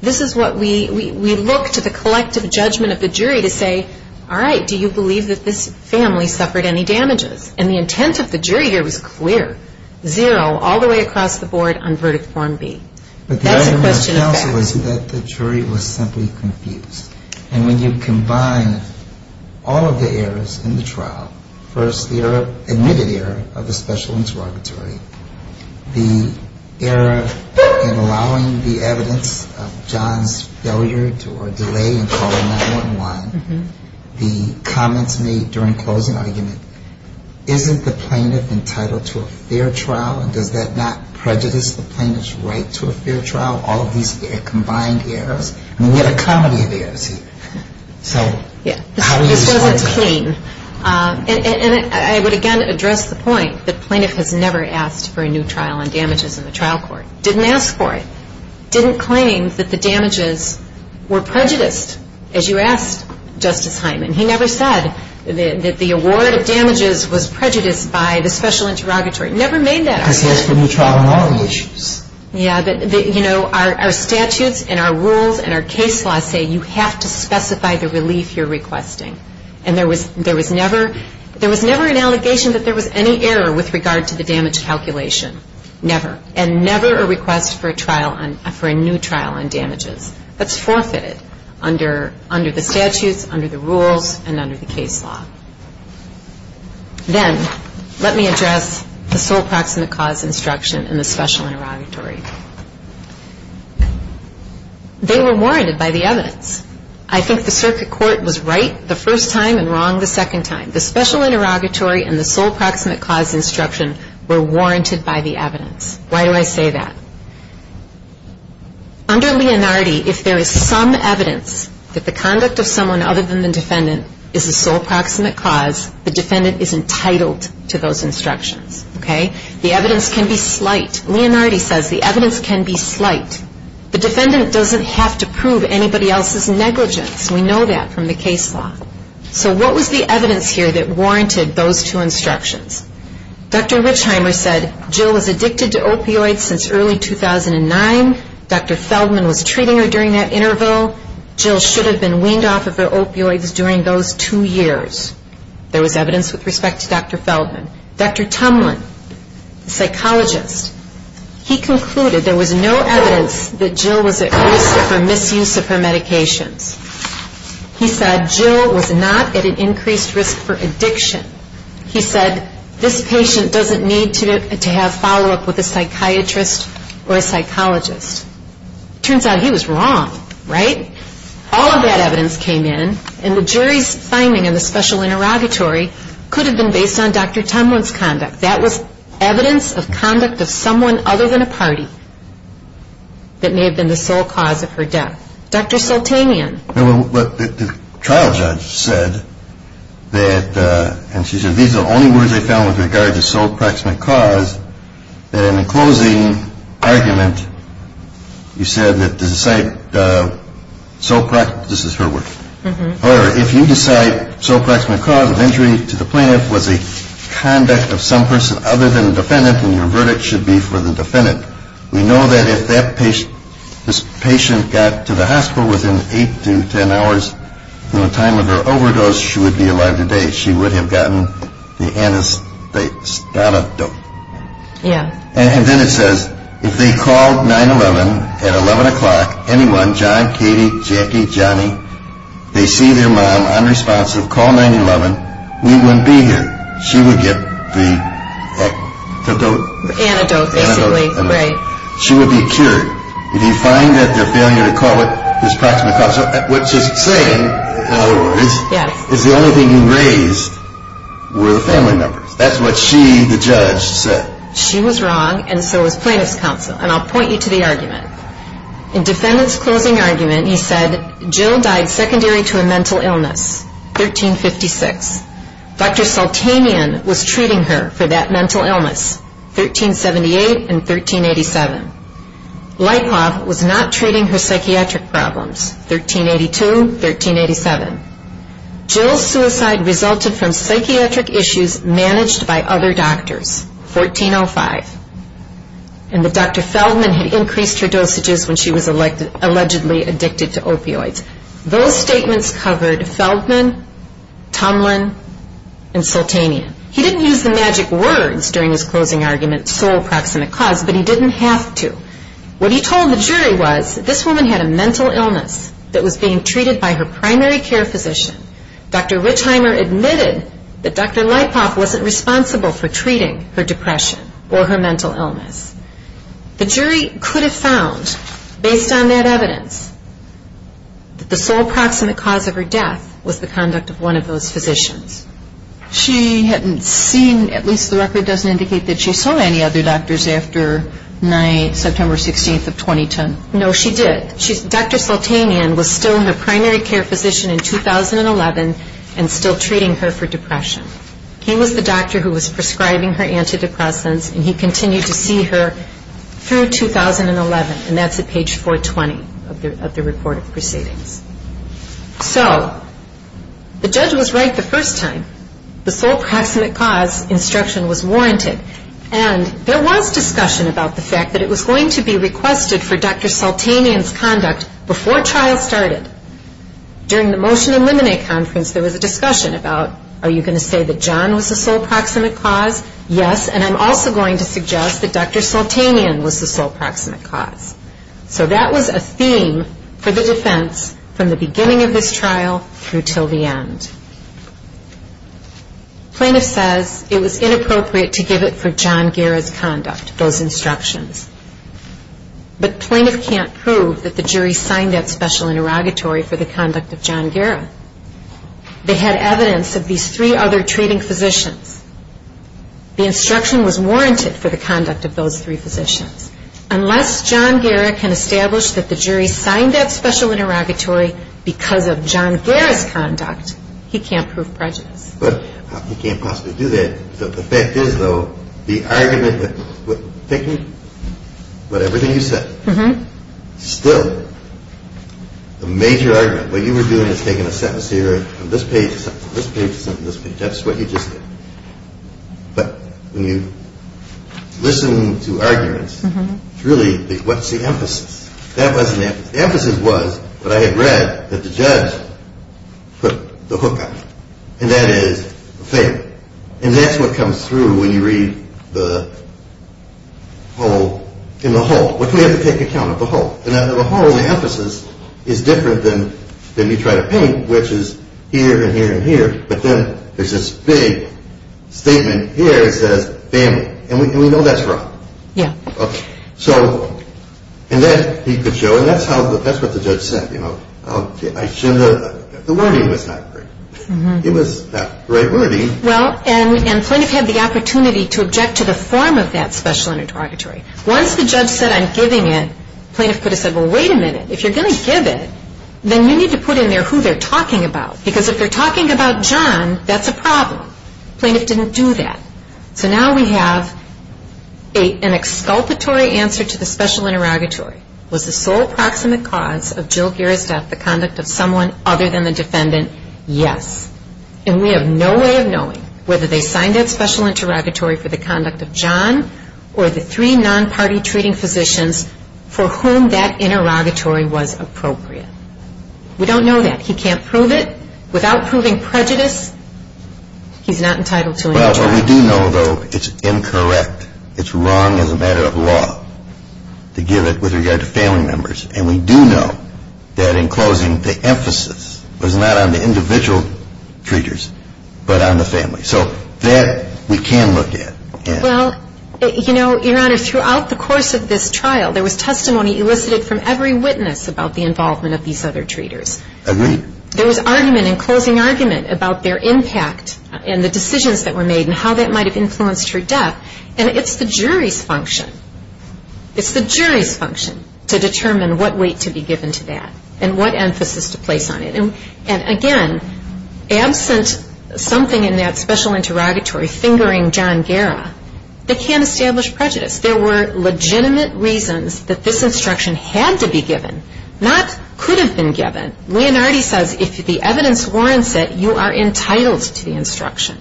This is what we look to the collective judgment of the jury to say, all right, do you believe that this family suffered any damages? And the intent of the jury here was clear. Zero, all the way across the board, on verdict form B. That's a question of fact. But the jury was simply confused. And when you combine all of the errors in the trial, first the omitted error of the special interrogatory, the error in allowing the evidence of John's failure or delay in calling 911, the comments made during closing arguments, isn't the plaintiff entitled to a fair trial? Does that not prejudice the plaintiff's right to a fair trial? All of these are combined errors. And we had a comedy there, too. So how does this work? And I would, again, address the point that plaintiff has never asked for a new trial on damages in the trial court. Didn't ask for it. Didn't claim that the damages were prejudiced, as you asked, Justice Hyman. And he never said that the award of damages was prejudiced by the special interrogatory. Never made that argument. He asked for a new trial on our relations. Yeah. You know, our statutes and our rules and our case laws say you have to specify the relief you're requesting. And there was never an allegation that there was any error with regard to the damage calculation. Never. And never a request for a new trial on damages. That's forfeited under the statutes, under the rules, and under the case law. Then, let me address the full proximate cause instruction and the special interrogatory. They were warranted by the evidence. I think the circuit court was right the first time and wrong the second time. The special interrogatory and the full proximate cause instruction were warranted by the evidence. Why do I say that? Under Leonardi, if there is some evidence that the conduct of someone other than the defendant is the full proximate cause, the defendant is entitled to those instructions. Okay? The evidence can be slight. Leonardi says the evidence can be slight. The defendant doesn't have to prove anybody else's negligence. We know that from the case law. So what was the evidence here that warranted those two instructions? Dr. Richheimer said Jill was addicted to opioids since early 2009. Dr. Feldman was treating her during that interval. Jill should have been weaned off of her opioids during those two years. There was evidence with respect to Dr. Feldman. Dr. Tumlin, psychologist, he concluded there was no evidence that Jill was at risk for misuse of her medication. He said this patient doesn't need to have follow-up with a psychiatrist or a psychologist. Turns out he was wrong. Right? All of that evidence came in, and the jury's finding of the special interrogatory could have been based on Dr. Tumlin's conduct. That was evidence of conduct of someone other than a party that may have been the sole cause of her death. Dr. Sultanian. The trial judge said that, and she said these are the only words they found with regard to sole proximate cause, that in the closing argument, you said that the site, this is her word. If you decide sole proximate cause of injury to the plaintiff was a conduct of some person other than the defendant, then your verdict should be for the defendant. We know that if this patient got to the hospital within 8 to 10 hours from the time of her overdose, she would be alive today. She would have gotten the anesthetics, the antidote. Yeah. And then it says, if they called 911 at 11 o'clock, anyone, John, Katie, Jackie, Johnny, they see their mom unresponsive, call 911, we wouldn't be here. She would get the antidote. Antidote, basically, right. She would be cured. If you find that they're failing to recall the sole proximate cause, what she's saying, however, is the only thing raised were the family members. That's what she, the judge, said. She was wrong, and so were plaintiff's counsel. And I'll point you to the argument. In defendant's closing argument, he said Jill died secondary to a mental illness, 1356. Dr. Saltanian was treating her for that mental illness, 1378 and 1387. Leipov was not treating her psychiatric problems, 1382, 1387. Jill's suicide resulted from psychiatric issues managed by other doctors, 1405. And Dr. Feldman had increased her dosages when she was allegedly addicted to opioids. Those statements covered Feldman, Tomlin, and Saltanian. He didn't use the magic words during his closing argument, sole proximate cause, but he didn't have to. What he told the jury was that this woman had a mental illness that was being treated by her primary care physician. Dr. Wittheimer admitted that Dr. Leipov wasn't responsible for treating her depression or her mental illness. The jury could have found, based on that evidence, that the sole proximate cause of her death was the conduct of one of those physicians. She hadn't seen, at least the record doesn't indicate that she saw any other doctors after September 16th of 2010. No, she did. Dr. Saltanian was still her primary care physician in 2011 and still treating her for depression. He was the doctor who was prescribing her antidepressants, and he continued to see her through 2011, and that's at page 420 of the report of proceedings. So, the judge was right the first time. The sole proximate cause instruction was warranted, and there was discussion about the fact that it was going to be requested for Dr. Saltanian's conduct before trial started. During the motion eliminate conference, there was a discussion about, are you going to say that John was the sole proximate cause? Yes, and I'm also going to suggest that Dr. Saltanian was the sole proximate cause. So, that was a theme for the defense from the beginning of this trial through until the end. Plaintiff says it was inappropriate to give it for John Garrett's conduct, those instructions. But plaintiff can't prove that the jury signed that special interrogatory for the conduct of John Garrett. They had evidence of these three other treating physicians. The instruction was warranted for the conduct of those three physicians. Unless John Garrett can establish that the jury signed that special interrogatory because of John Garrett's conduct, he can't prove prejudice. But he can't possibly do that. But the fact is, though, the argument, thinking about everything you said, still a major argument. What you were doing is taking a sentence here from this page to this page to this page. That's what you just did. But when you listen to arguments, it's really what's the emphasis? The emphasis was what I had read that the judge put the hook on. And that is a failure. And that's what comes through when you read the whole. In the whole. But you have to take account of the whole. The whole, the emphasis is different than you try to paint, which is here and here and here. But then there's this big statement here that says dammit. And we know that's wrong. Yeah. Okay. And that he could show. That's what the judge said. I shouldn't have. The wording was not right. It was not right wording. Well, and plaintiff had the opportunity to object to the form of that special interrogatory. Once the judge said I'm giving it, plaintiff could have said, well, wait a minute. If you're going to give it, then you need to put in there who they're talking about. Because if they're talking about John, that's a problem. Plaintiff didn't do that. So now we have an exculpatory answer to the special interrogatory. Was the sole proximate cause of Jill Geer's theft the conduct of someone other than the defendant? Yes. And we have no way of knowing whether they signed that special interrogatory for the conduct of John or the three non-party treating physicians for whom that interrogatory was appropriate. We don't know that. He can't prove it. Without proving prejudice, he's not entitled to an answer. Well, we do know, though, it's incorrect. It's wrong as a matter of law to give it with regard to family members. And we do know that in closing, the emphasis was not on the individual treaters but on the family. So that we can look at. Well, you know, Your Honor, throughout the course of this trial, there was testimony elicited from every witness about the involvement of these other treaters. Agreed. There was argument and closing argument about their impact and the decisions that were made and how that might have influenced her death. And it's the jury's function. It's the jury's function to determine what weight could be given to that and what emphasis to place on it. And, again, absent something in that special interrogatory fingering John Guerra, they can't establish prejudice. There were legitimate reasons that this instruction had to be given, not could have been given. Leonardi says if the evidence warrants it, you are entitled to the instruction.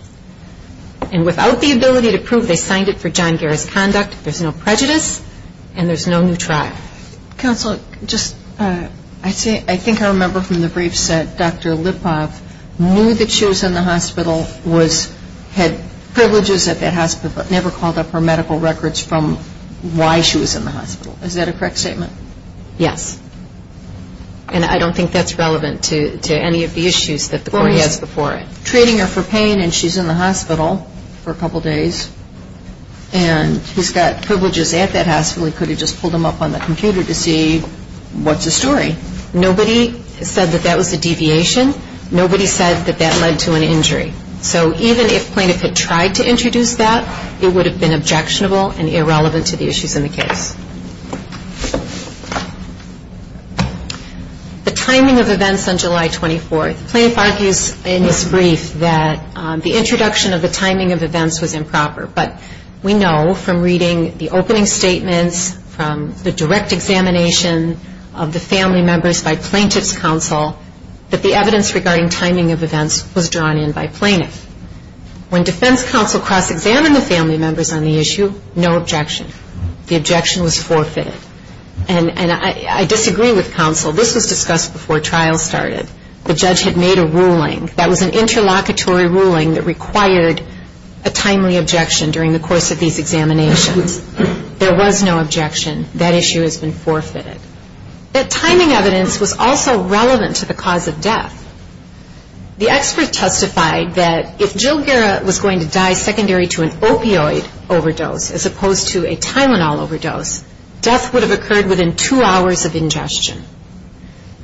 And without the ability to prove they signed it for John Guerra's conduct, there's no prejudice and there's no new trial. Counsel, I think I remember from the briefs that Dr. Lipoff knew that she was in the hospital, had privileges at that hospital, but never called up her medical records from why she was in the hospital. Is that a correct statement? Yes. And I don't think that's relevant to any of the issues that the court has before it. We're treating her for pain and she's in the hospital for a couple days and she's got privileges at that hospital. We could have just pulled them up on the computer to see what's the story. Nobody said that that was a deviation. Nobody said that that led to an injury. So even if plaintiff had tried to introduce that, it would have been objectionable and irrelevant to the issues in the case. The timing of events on July 24th. Plaintiff argues in this brief that the introduction of the timing of events was improper, but we know from reading the opening statement, from the direct examination of the family members by plaintiff's counsel, that the evidence regarding timing of events was drawn in by plaintiff. When defense counsel cross-examined the family members on the issue, no objection. The objection was forfeited. And I disagree with counsel. This was discussed before trial started. The judge had made a ruling. That was an interlocutory ruling that required a timely objection during the course of these examinations. There was no objection. That issue has been forfeited. The timing of events was also relevant to the cause of death. The experts testified that if Jill Garrett was going to die secondary to an opioid overdose, as opposed to a Tylenol overdose, death would have occurred within two hours of ingestion.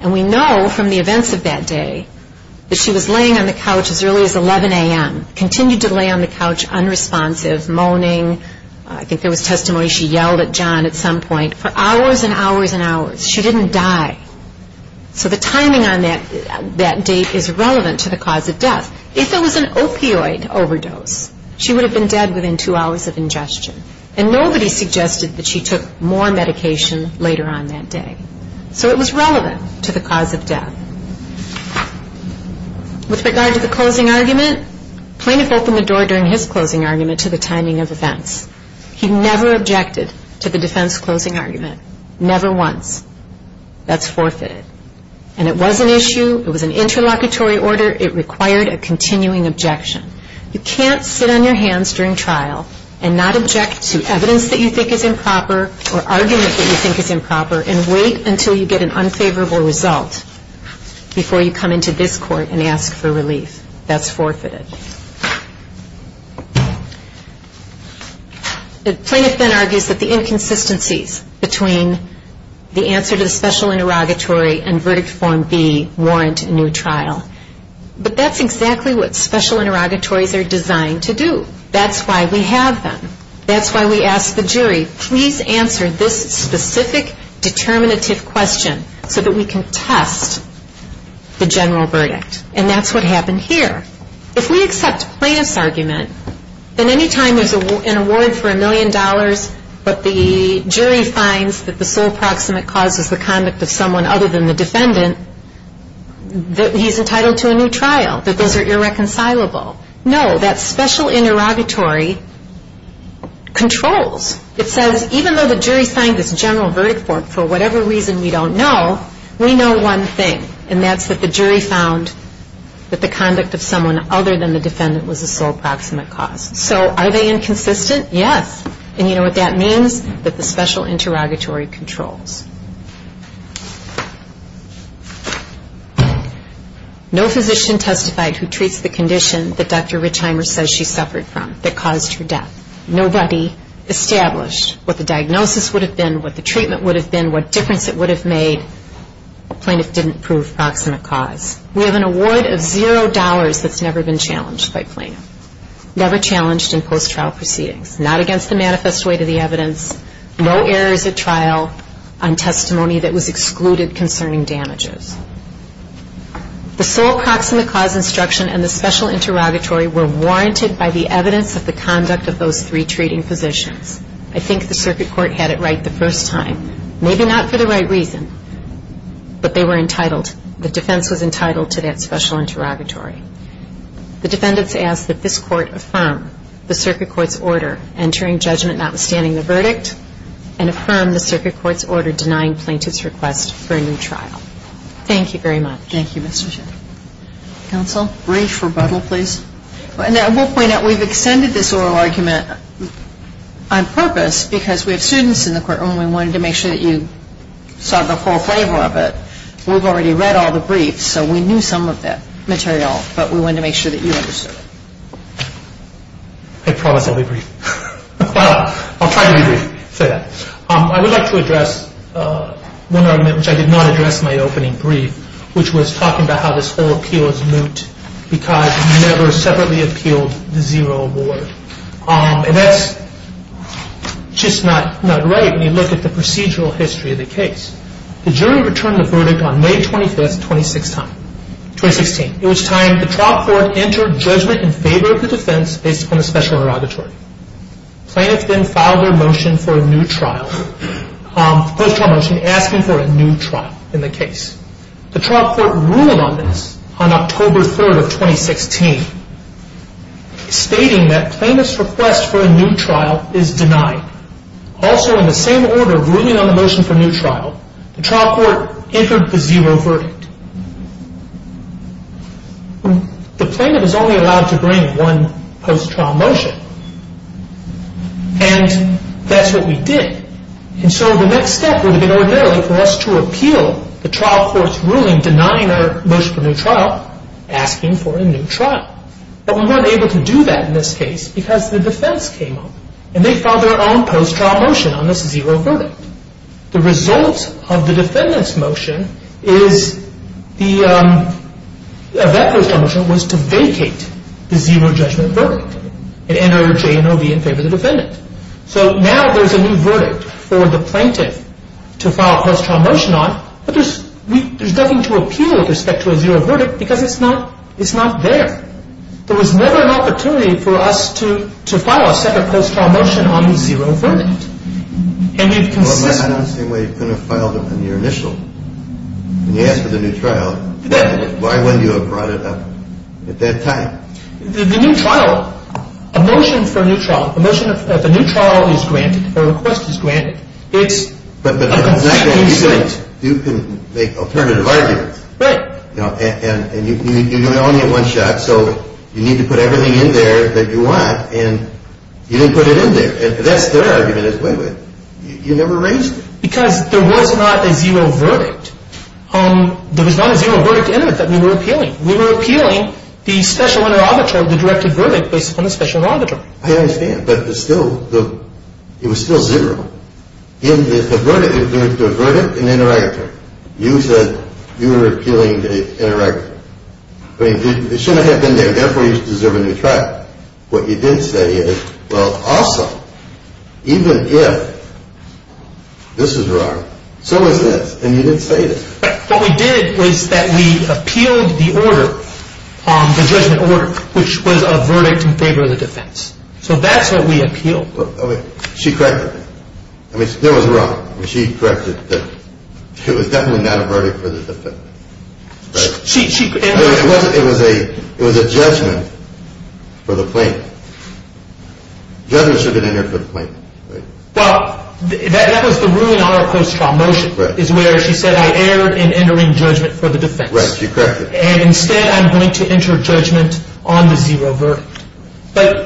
And we know from the events of that day that she was laying on the couch as early as 11 a.m., continued to lay on the couch unresponsive, moaning. I can say with testimony she yelled at John at some point for hours and hours and hours. She didn't die. So the timing on that date is relevant to the cause of death. If it was an opioid overdose, she would have been dead within two hours of ingestion. And nobody suggested that she took more medication later on that day. So it was relevant to the cause of death. With regard to the closing argument, Plaintiff opened the door during his closing argument to the timing of events. He never objected to the defense's closing argument, never once. That's forfeited. And it was an issue. It was an interlocutory order. It required a continuing objection. You can't sit on your hands during trials and not object to evidence that you think is improper or arguments that you think is improper and wait until you get an unfavorable result before you come into this court and ask for relief. That's forfeited. Plaintiff then argues that the inconsistencies between the answer to the special interrogatory and verdict form B warrant a new trial. But that's exactly what special interrogatories are designed to do. That's why we have them. That's why we ask the jury, please answer this specific determinative question so that we can test the general verdict. And that's what happened here. If we accept Plaintiff's argument, then any time there's an award for a million dollars but the jury finds that the full proximate cause is the conduct of someone other than the defendant, he's entitled to a new trial. But those are irreconcilable. No, that special interrogatory controls. It says even though the jury finds its general verdict form, for whatever reason we don't know, we know one thing, and that's that the jury found that the conduct of someone other than the defendant was the full proximate cause. So are they inconsistent? Yes. And you know what that means? That the special interrogatory controls. No physician testified who treats the condition that Dr. Richheimer says she suffered from that caused her death. Nobody established what the diagnosis would have been, what the treatment would have been, what difference it would have made. Plaintiff didn't prove proximate cause. We have an award of zero dollars that's never been challenged by plaintiffs, never challenged in post-trial proceedings. Not against the manifest way to the evidence, no errors at trial, on testimony that was excluded concerning damages. The full proximate cause instruction and the special interrogatory were warranted by the evidence of the conduct of those three treating physicians. I think the circuit court had it right the first time. Maybe not for the right reason, but they were entitled. The defense was entitled to that special interrogatory. The defendants asked that this court affirm the circuit court's order, entering judgment notwithstanding the verdict, and affirm the circuit court's order denying plaintiff's request for a new trial. Thank you very much. Thank you, Mr. Chairman. Counsel? Brief rebuttal, please. I will point out we've extended this oral argument on purpose because we have students in the courtroom and we wanted to make sure that you saw the full flavor of it. We've already read all the briefs, so we knew some of the material, but we wanted to make sure that you understood it. I promise I'll be brief. I'll try to be brief. I would like to address one argument which I did not address in my opening brief, which was talking about how this whole appeal is moot because we never separately appealed the zero award. And that's just not right when you look at the procedural history of the case. The jury returned the verdict on May 25th, 2016. It was time for the trial court to enter judgment in favor of the defense based upon a special derogatory. Plaintiff then filed their motion for a new trial, a request for a motion asking for a new trial in the case. The trial court ruled on this on October 3rd of 2016, stating that plaintiff's request for a new trial is denied. Also in the same order ruling on the motion for a new trial, the trial court entered the zero verdict. The plaintiff is only allowed to bring one post-trial motion, and that's what we did. And so the next step was a derogatory request to repeal the trial court's ruling denying our motion for a new trial, asking for a new trial. But we weren't able to do that in this case because the defense came up, and they filed their own post-trial motion on this zero verdict. The result of the defendant's motion was to vacate the zero judgment verdict and enter J&OB in favor of the defendant. So now there's a new verdict for the plaintiff to file a post-trial motion on, but there's nothing to appeal with respect to a zero verdict because it's not there. There was never an opportunity for us to file a second post-trial motion on the zero verdict. I don't see why you couldn't have filed it from your initials. When you asked for the new trial, why wouldn't you have brought it up at that time? The new trial, a motion for a new trial, a motion that says a new trial is granted, a request is granted, is a new trial. You can make alternative arguments. Right. And you can only get one shot, so you need to put everything in there that you want, and you didn't put it in there. And that's their argument as well. You never raised it. Because there was not a zero verdict. There was not a zero verdict in it that we were appealing. We were appealing the special auditor, the directed verdict based upon the special auditor. I understand, but it was still zero. In the verdict, there was a verdict and an interrogator. You said you were appealing the interrogator. It shouldn't have been there. That's why you deserve a new trial. What you didn't say is, well, also, even if this is wrong, so is this. And you didn't say it. What we did was that we appealed the order, the judgment order, which was a verdict in favor of the defense. So that's what we appealed. Okay. She corrected us. I mean, still it was wrong. She corrected it. It was definitely not a verdict for the defense. It was a judgment for the plaintiff. Judgment should have been entered for the plaintiff. Well, that was the ruling on our close trial motion, is where she said I erred in entering judgment for the defense. Yes, she corrected it. And instead I'm going to enter judgment on the zero verdict. But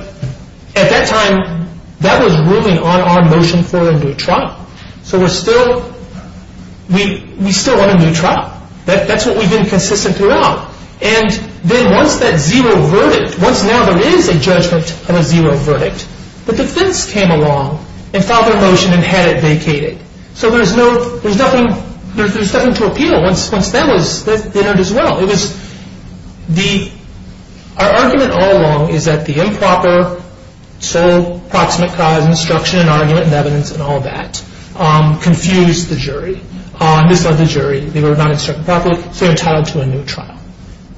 at that time, that was ruling on our motion for a new trial. So we're still, we still have a new trial. That's what we've been consistent throughout. And then once that zero verdict, once now there is a judgment on a zero verdict, the defense came along and filed their motion and had it vacated. So there's nothing, there's nothing to appeal. Once that was entered as well. Our argument all along is that the improper sole proximate trial instruction and argument and evidence and all that confused the jury. Who filed the jury? They were not instructed properly. So we're entitled to a new trial.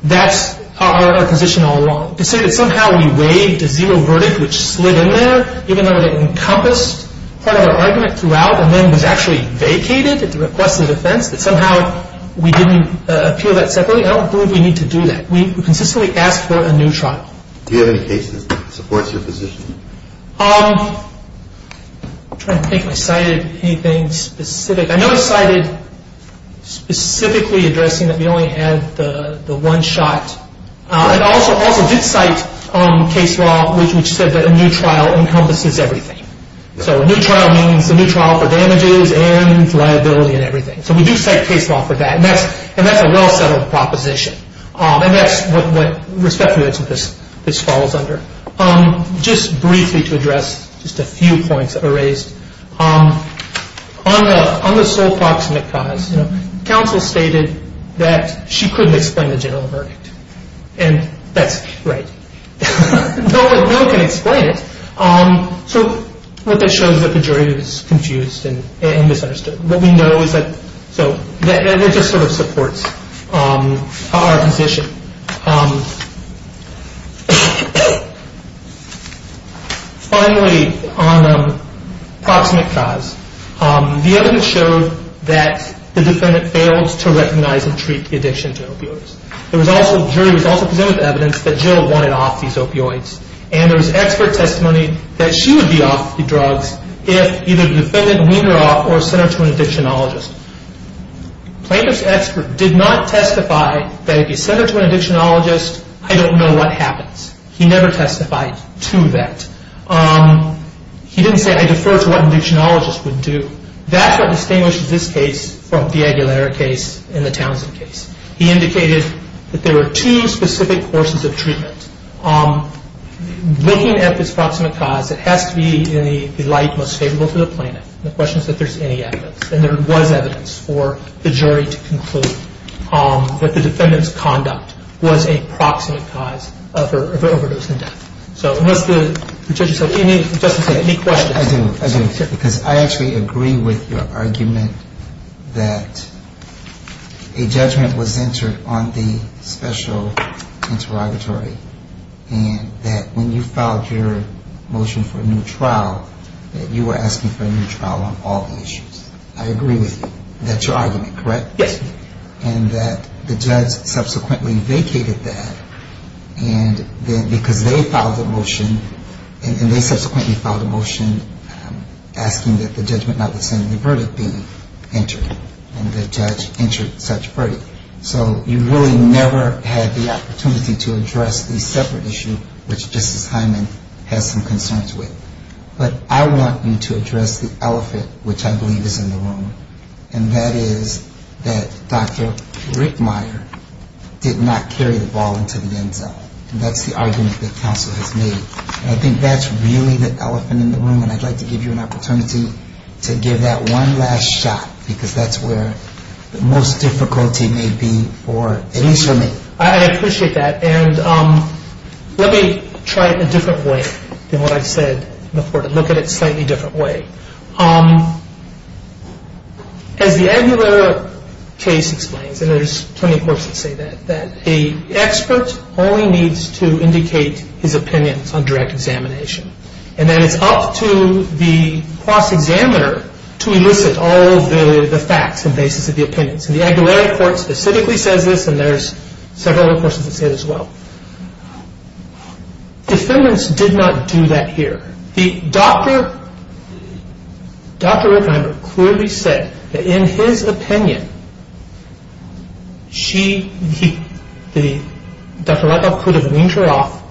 That's our position all along. To say that somehow we waived a zero verdict, which slid in there, even though it encompassed part of our argument throughout, and then was actually vacated at the request of the defense, but somehow we didn't appeal that separately, I don't think we need to do that. We consistently ask for a new trial. Do you have any case that supports your position? I'm trying to think if I cited anything specific. I know I cited specifically addressing that you only had the one shot. And I also did cite case law which said that a new trial encompasses everything. So a new trial means a new trial for damages and liability and everything. So we do cite case law for that. And that's a well-settled proposition. And that's what respect to this falls under. Just briefly to address just a few points that were raised. On the sole proximate cause, counsel stated that she couldn't explain the general verdict. And that's great. No one can explain it. So what that shows is that the jury is confused and misunderstood. What we know is that it just sort of supports our position. Finally, on the proximate cause. The evidence showed that the defendant fails to recognize and treat the addiction to opioids. The jury also presented evidence that Jill wanted off these opioids. And there was expert testimony that she would be off the drugs if either the defendant weaned her off or sent her to an addictionologist. Plaintiff's expert did not testify that if you send her to an addictionologist, I don't know what happens. He never testified to that. He didn't say, I defer to what an addictionologist would do. That's what distinguishes this case from the Aguilera case and the Townsend case. He indicated that there were two specific forces of treatment. Looking at this proximate cause, it has to be in the light most favorable to the plaintiff. The question is if there's any evidence. And there was one evidence for the jury to conclude that the defendant's conduct was a proximate cause of her overdose. So I'm going to let the judge decide. Any questions? I actually agree with your argument that a judgment was answered on the special interrogatory and that when you filed your motion for a new trial, that you were asking for a new trial on all the issues. I agree with you. That's your argument, correct? Yes. And that the judge subsequently vacated that. And then because they filed the motion, and they subsequently filed the motion asking that the judgment notwithstanding, the verdict be entered. And the judge entered the judge's verdict. So you really never had the opportunity to address the separate issue, which Justice Hyman had some consent to it. But I want you to address the elephant, which I believe is in the room, and that is that Dr. Rickmeyer did not carry a ball into the end zone. And that's the argument that counsel has made. And I think that's really the elephant in the room, and I'd like to give you an opportunity to give that one last shot, because that's where the most difficulty may be for an instrument. I appreciate that. And let me try it a different way than what I've said before, to look at it a slightly different way. As the Aguilar case explains, and there's plenty of books that say that, that the expert only needs to indicate his opinion on direct examination. And then it's up to the cross-examiner to elucidate all of the facts and basis of the opinion. So the Aguilar report specifically says this, and there's several other questions that say this as well. Defendants did not do that here. Dr. Rickmeyer clearly said that in his opinion, she, he, Dr. Ruckel could have weaned her off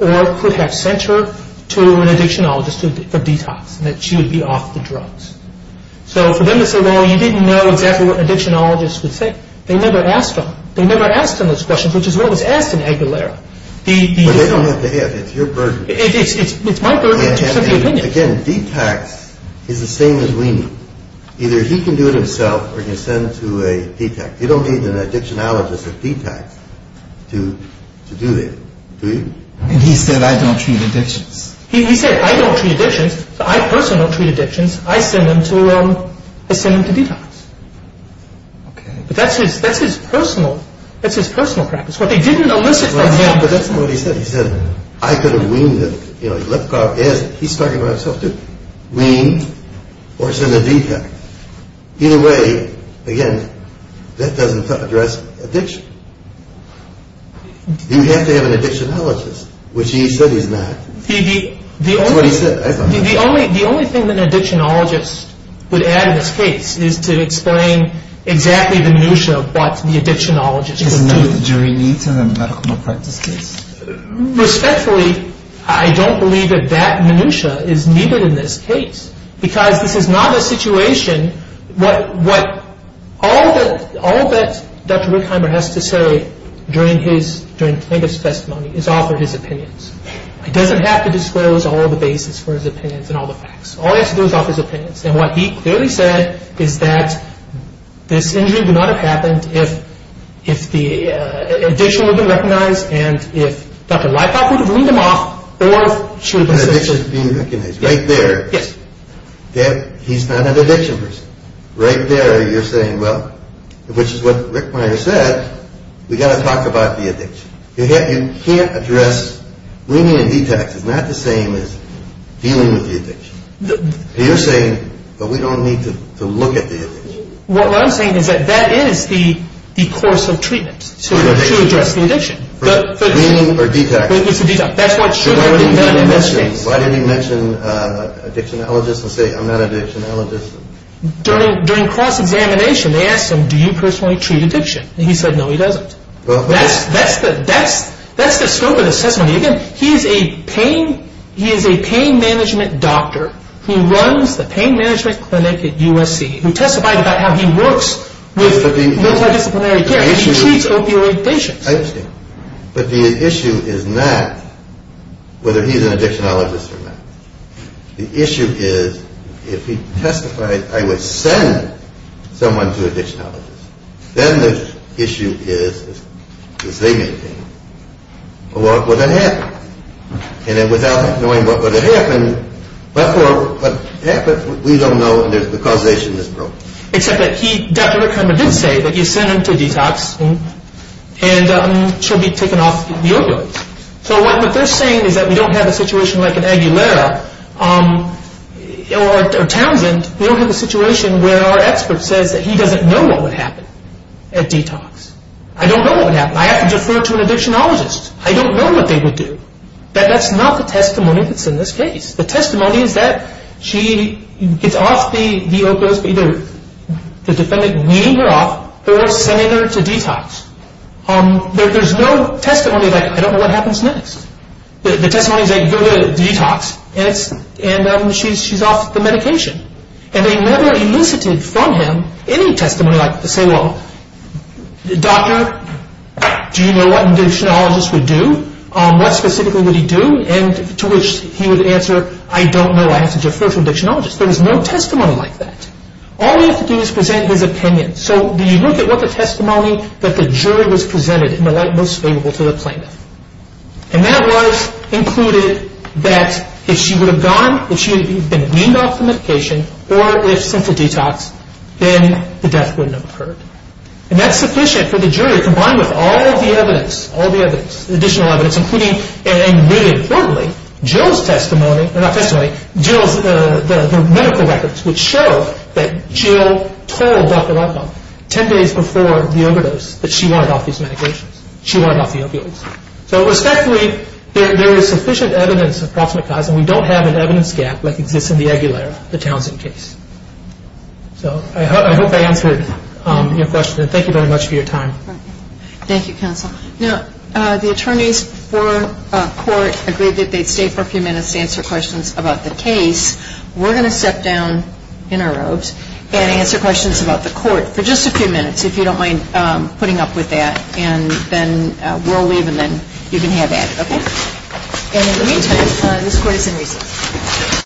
or could have sent her to an addictionologist for detox, and that she would be off the drugs. So defendants are going, you didn't know exactly what an addictionologist would say. They never asked him. They never asked him this question, which is what was asked in Aguilar. But they don't have to ask. It's your version. It is. It's my version. Again, detox is the same as weaning. Either he can do it himself or he can send her to a detox. You don't need an addictionologist or detox to do that. Do you? And he said, I don't treat addictions. He said, I don't treat addictions. I personally don't treat addictions. I send them to detox. Okay. But that's his personal practice. He didn't elicit that from him. But that's what he said. He said, I could have weaned this. You know, let's go out there. He's talking about himself too. Wean or send her detox. Either way, again, that doesn't address addiction. You have to have an addictionologist, which he said he's not. The only thing that an addictionologist would add in this case is to explain exactly the minutiae of what the addictionologist can do. Do we need him in a medical department case? Respectfully, I don't believe that that minutiae is needed in this case. Because it's not a situation. All that Dr. Wilheimer has to say during his testimony is off of his opinions. He doesn't have to disclose all the bases for his opinions and all the facts. All he has to do is offer his opinions. And what he clearly said is that this injury would not have happened if the addiction wouldn't have been recognized and if Dr. Leifert wouldn't have weaned him off or Right there, he's kind of an addictionist. Right there you're saying, well, which is what Rick Meyer said, we've got to talk about the addiction. You can't address weaning and detox. It's not the same as dealing with the addiction. So you're saying, well, we don't need to look at the addiction. What I'm saying is that that is the course of treatment. Weaning or detox. Why didn't he mention addictionologist and say I'm not an addictionologist? During cross-examination, they asked him, do you personally treat addiction? And he said, no, he doesn't. That's the scope of the testimony. He is a pain management doctor who runs the pain management clinic at USC who testifies about how he works. He treats opioid patients. I understand. But the issue is not whether he's an addictionologist or not. The issue is if he testified, I would send someone to an addictionologist. Then the issue is to say to me, well, what would have happened? And then without knowing what would have happened, therefore, an expert would not know the causation of this problem. Except that Dr. Kramer did say that he sent him to detox and should be taking off the opioids. So what they're saying is that we don't have a situation like an Aguilera or Townsend. We don't have a situation where our expert said that he doesn't know what would happen at detox. I don't know what would happen. I have to defer to an addictionologist. I don't know what they would do. But that's not the testimony that's in this case. The testimony is that she gets off the opioids, either the defendant leaving her off or sending her to detox. There's no testimony like I don't know what happens next. The testimony is that you go to detox and she's off the medication. And they never elucidated from him any testimony like to say, well, doctor, do you know what an addictionologist would do? What specifically would he do? And to which he would answer, I don't know. I have to defer to an addictionologist. There was no testimony like that. All he had to do was present his opinion. So he looked at what the testimony that the jury was presented in the light most favorable to the plaintiff. And that was included that if she would have gone, if she had been leaving off the medication or if sent to detox, then the death wouldn't have occurred. And that's sufficient for the jury to combine with all the evidence, all the evidence, additional evidence, including, and really importantly, Jill's testimony, not testimony, Jill's medical records would show that Jill told Dr. Rothbaum 10 days before the overdose that she wanted off these medications. She wanted off the opioids. So, respectfully, there is sufficient evidence to classify them. We don't have an evidence gap like exists in the Aguilera, the Townsend case. So I hope I answered your question. Thank you very much for your time. Thank you, counsel. Now, the attorneys for court agreed that they'd stay for a few minutes to answer questions about the case. We're going to step down in a row and answer questions about the court for just a few minutes if you don't mind putting up with that. And then we'll leave and then you can have that. Okay? And in the meantime, this court is in recess.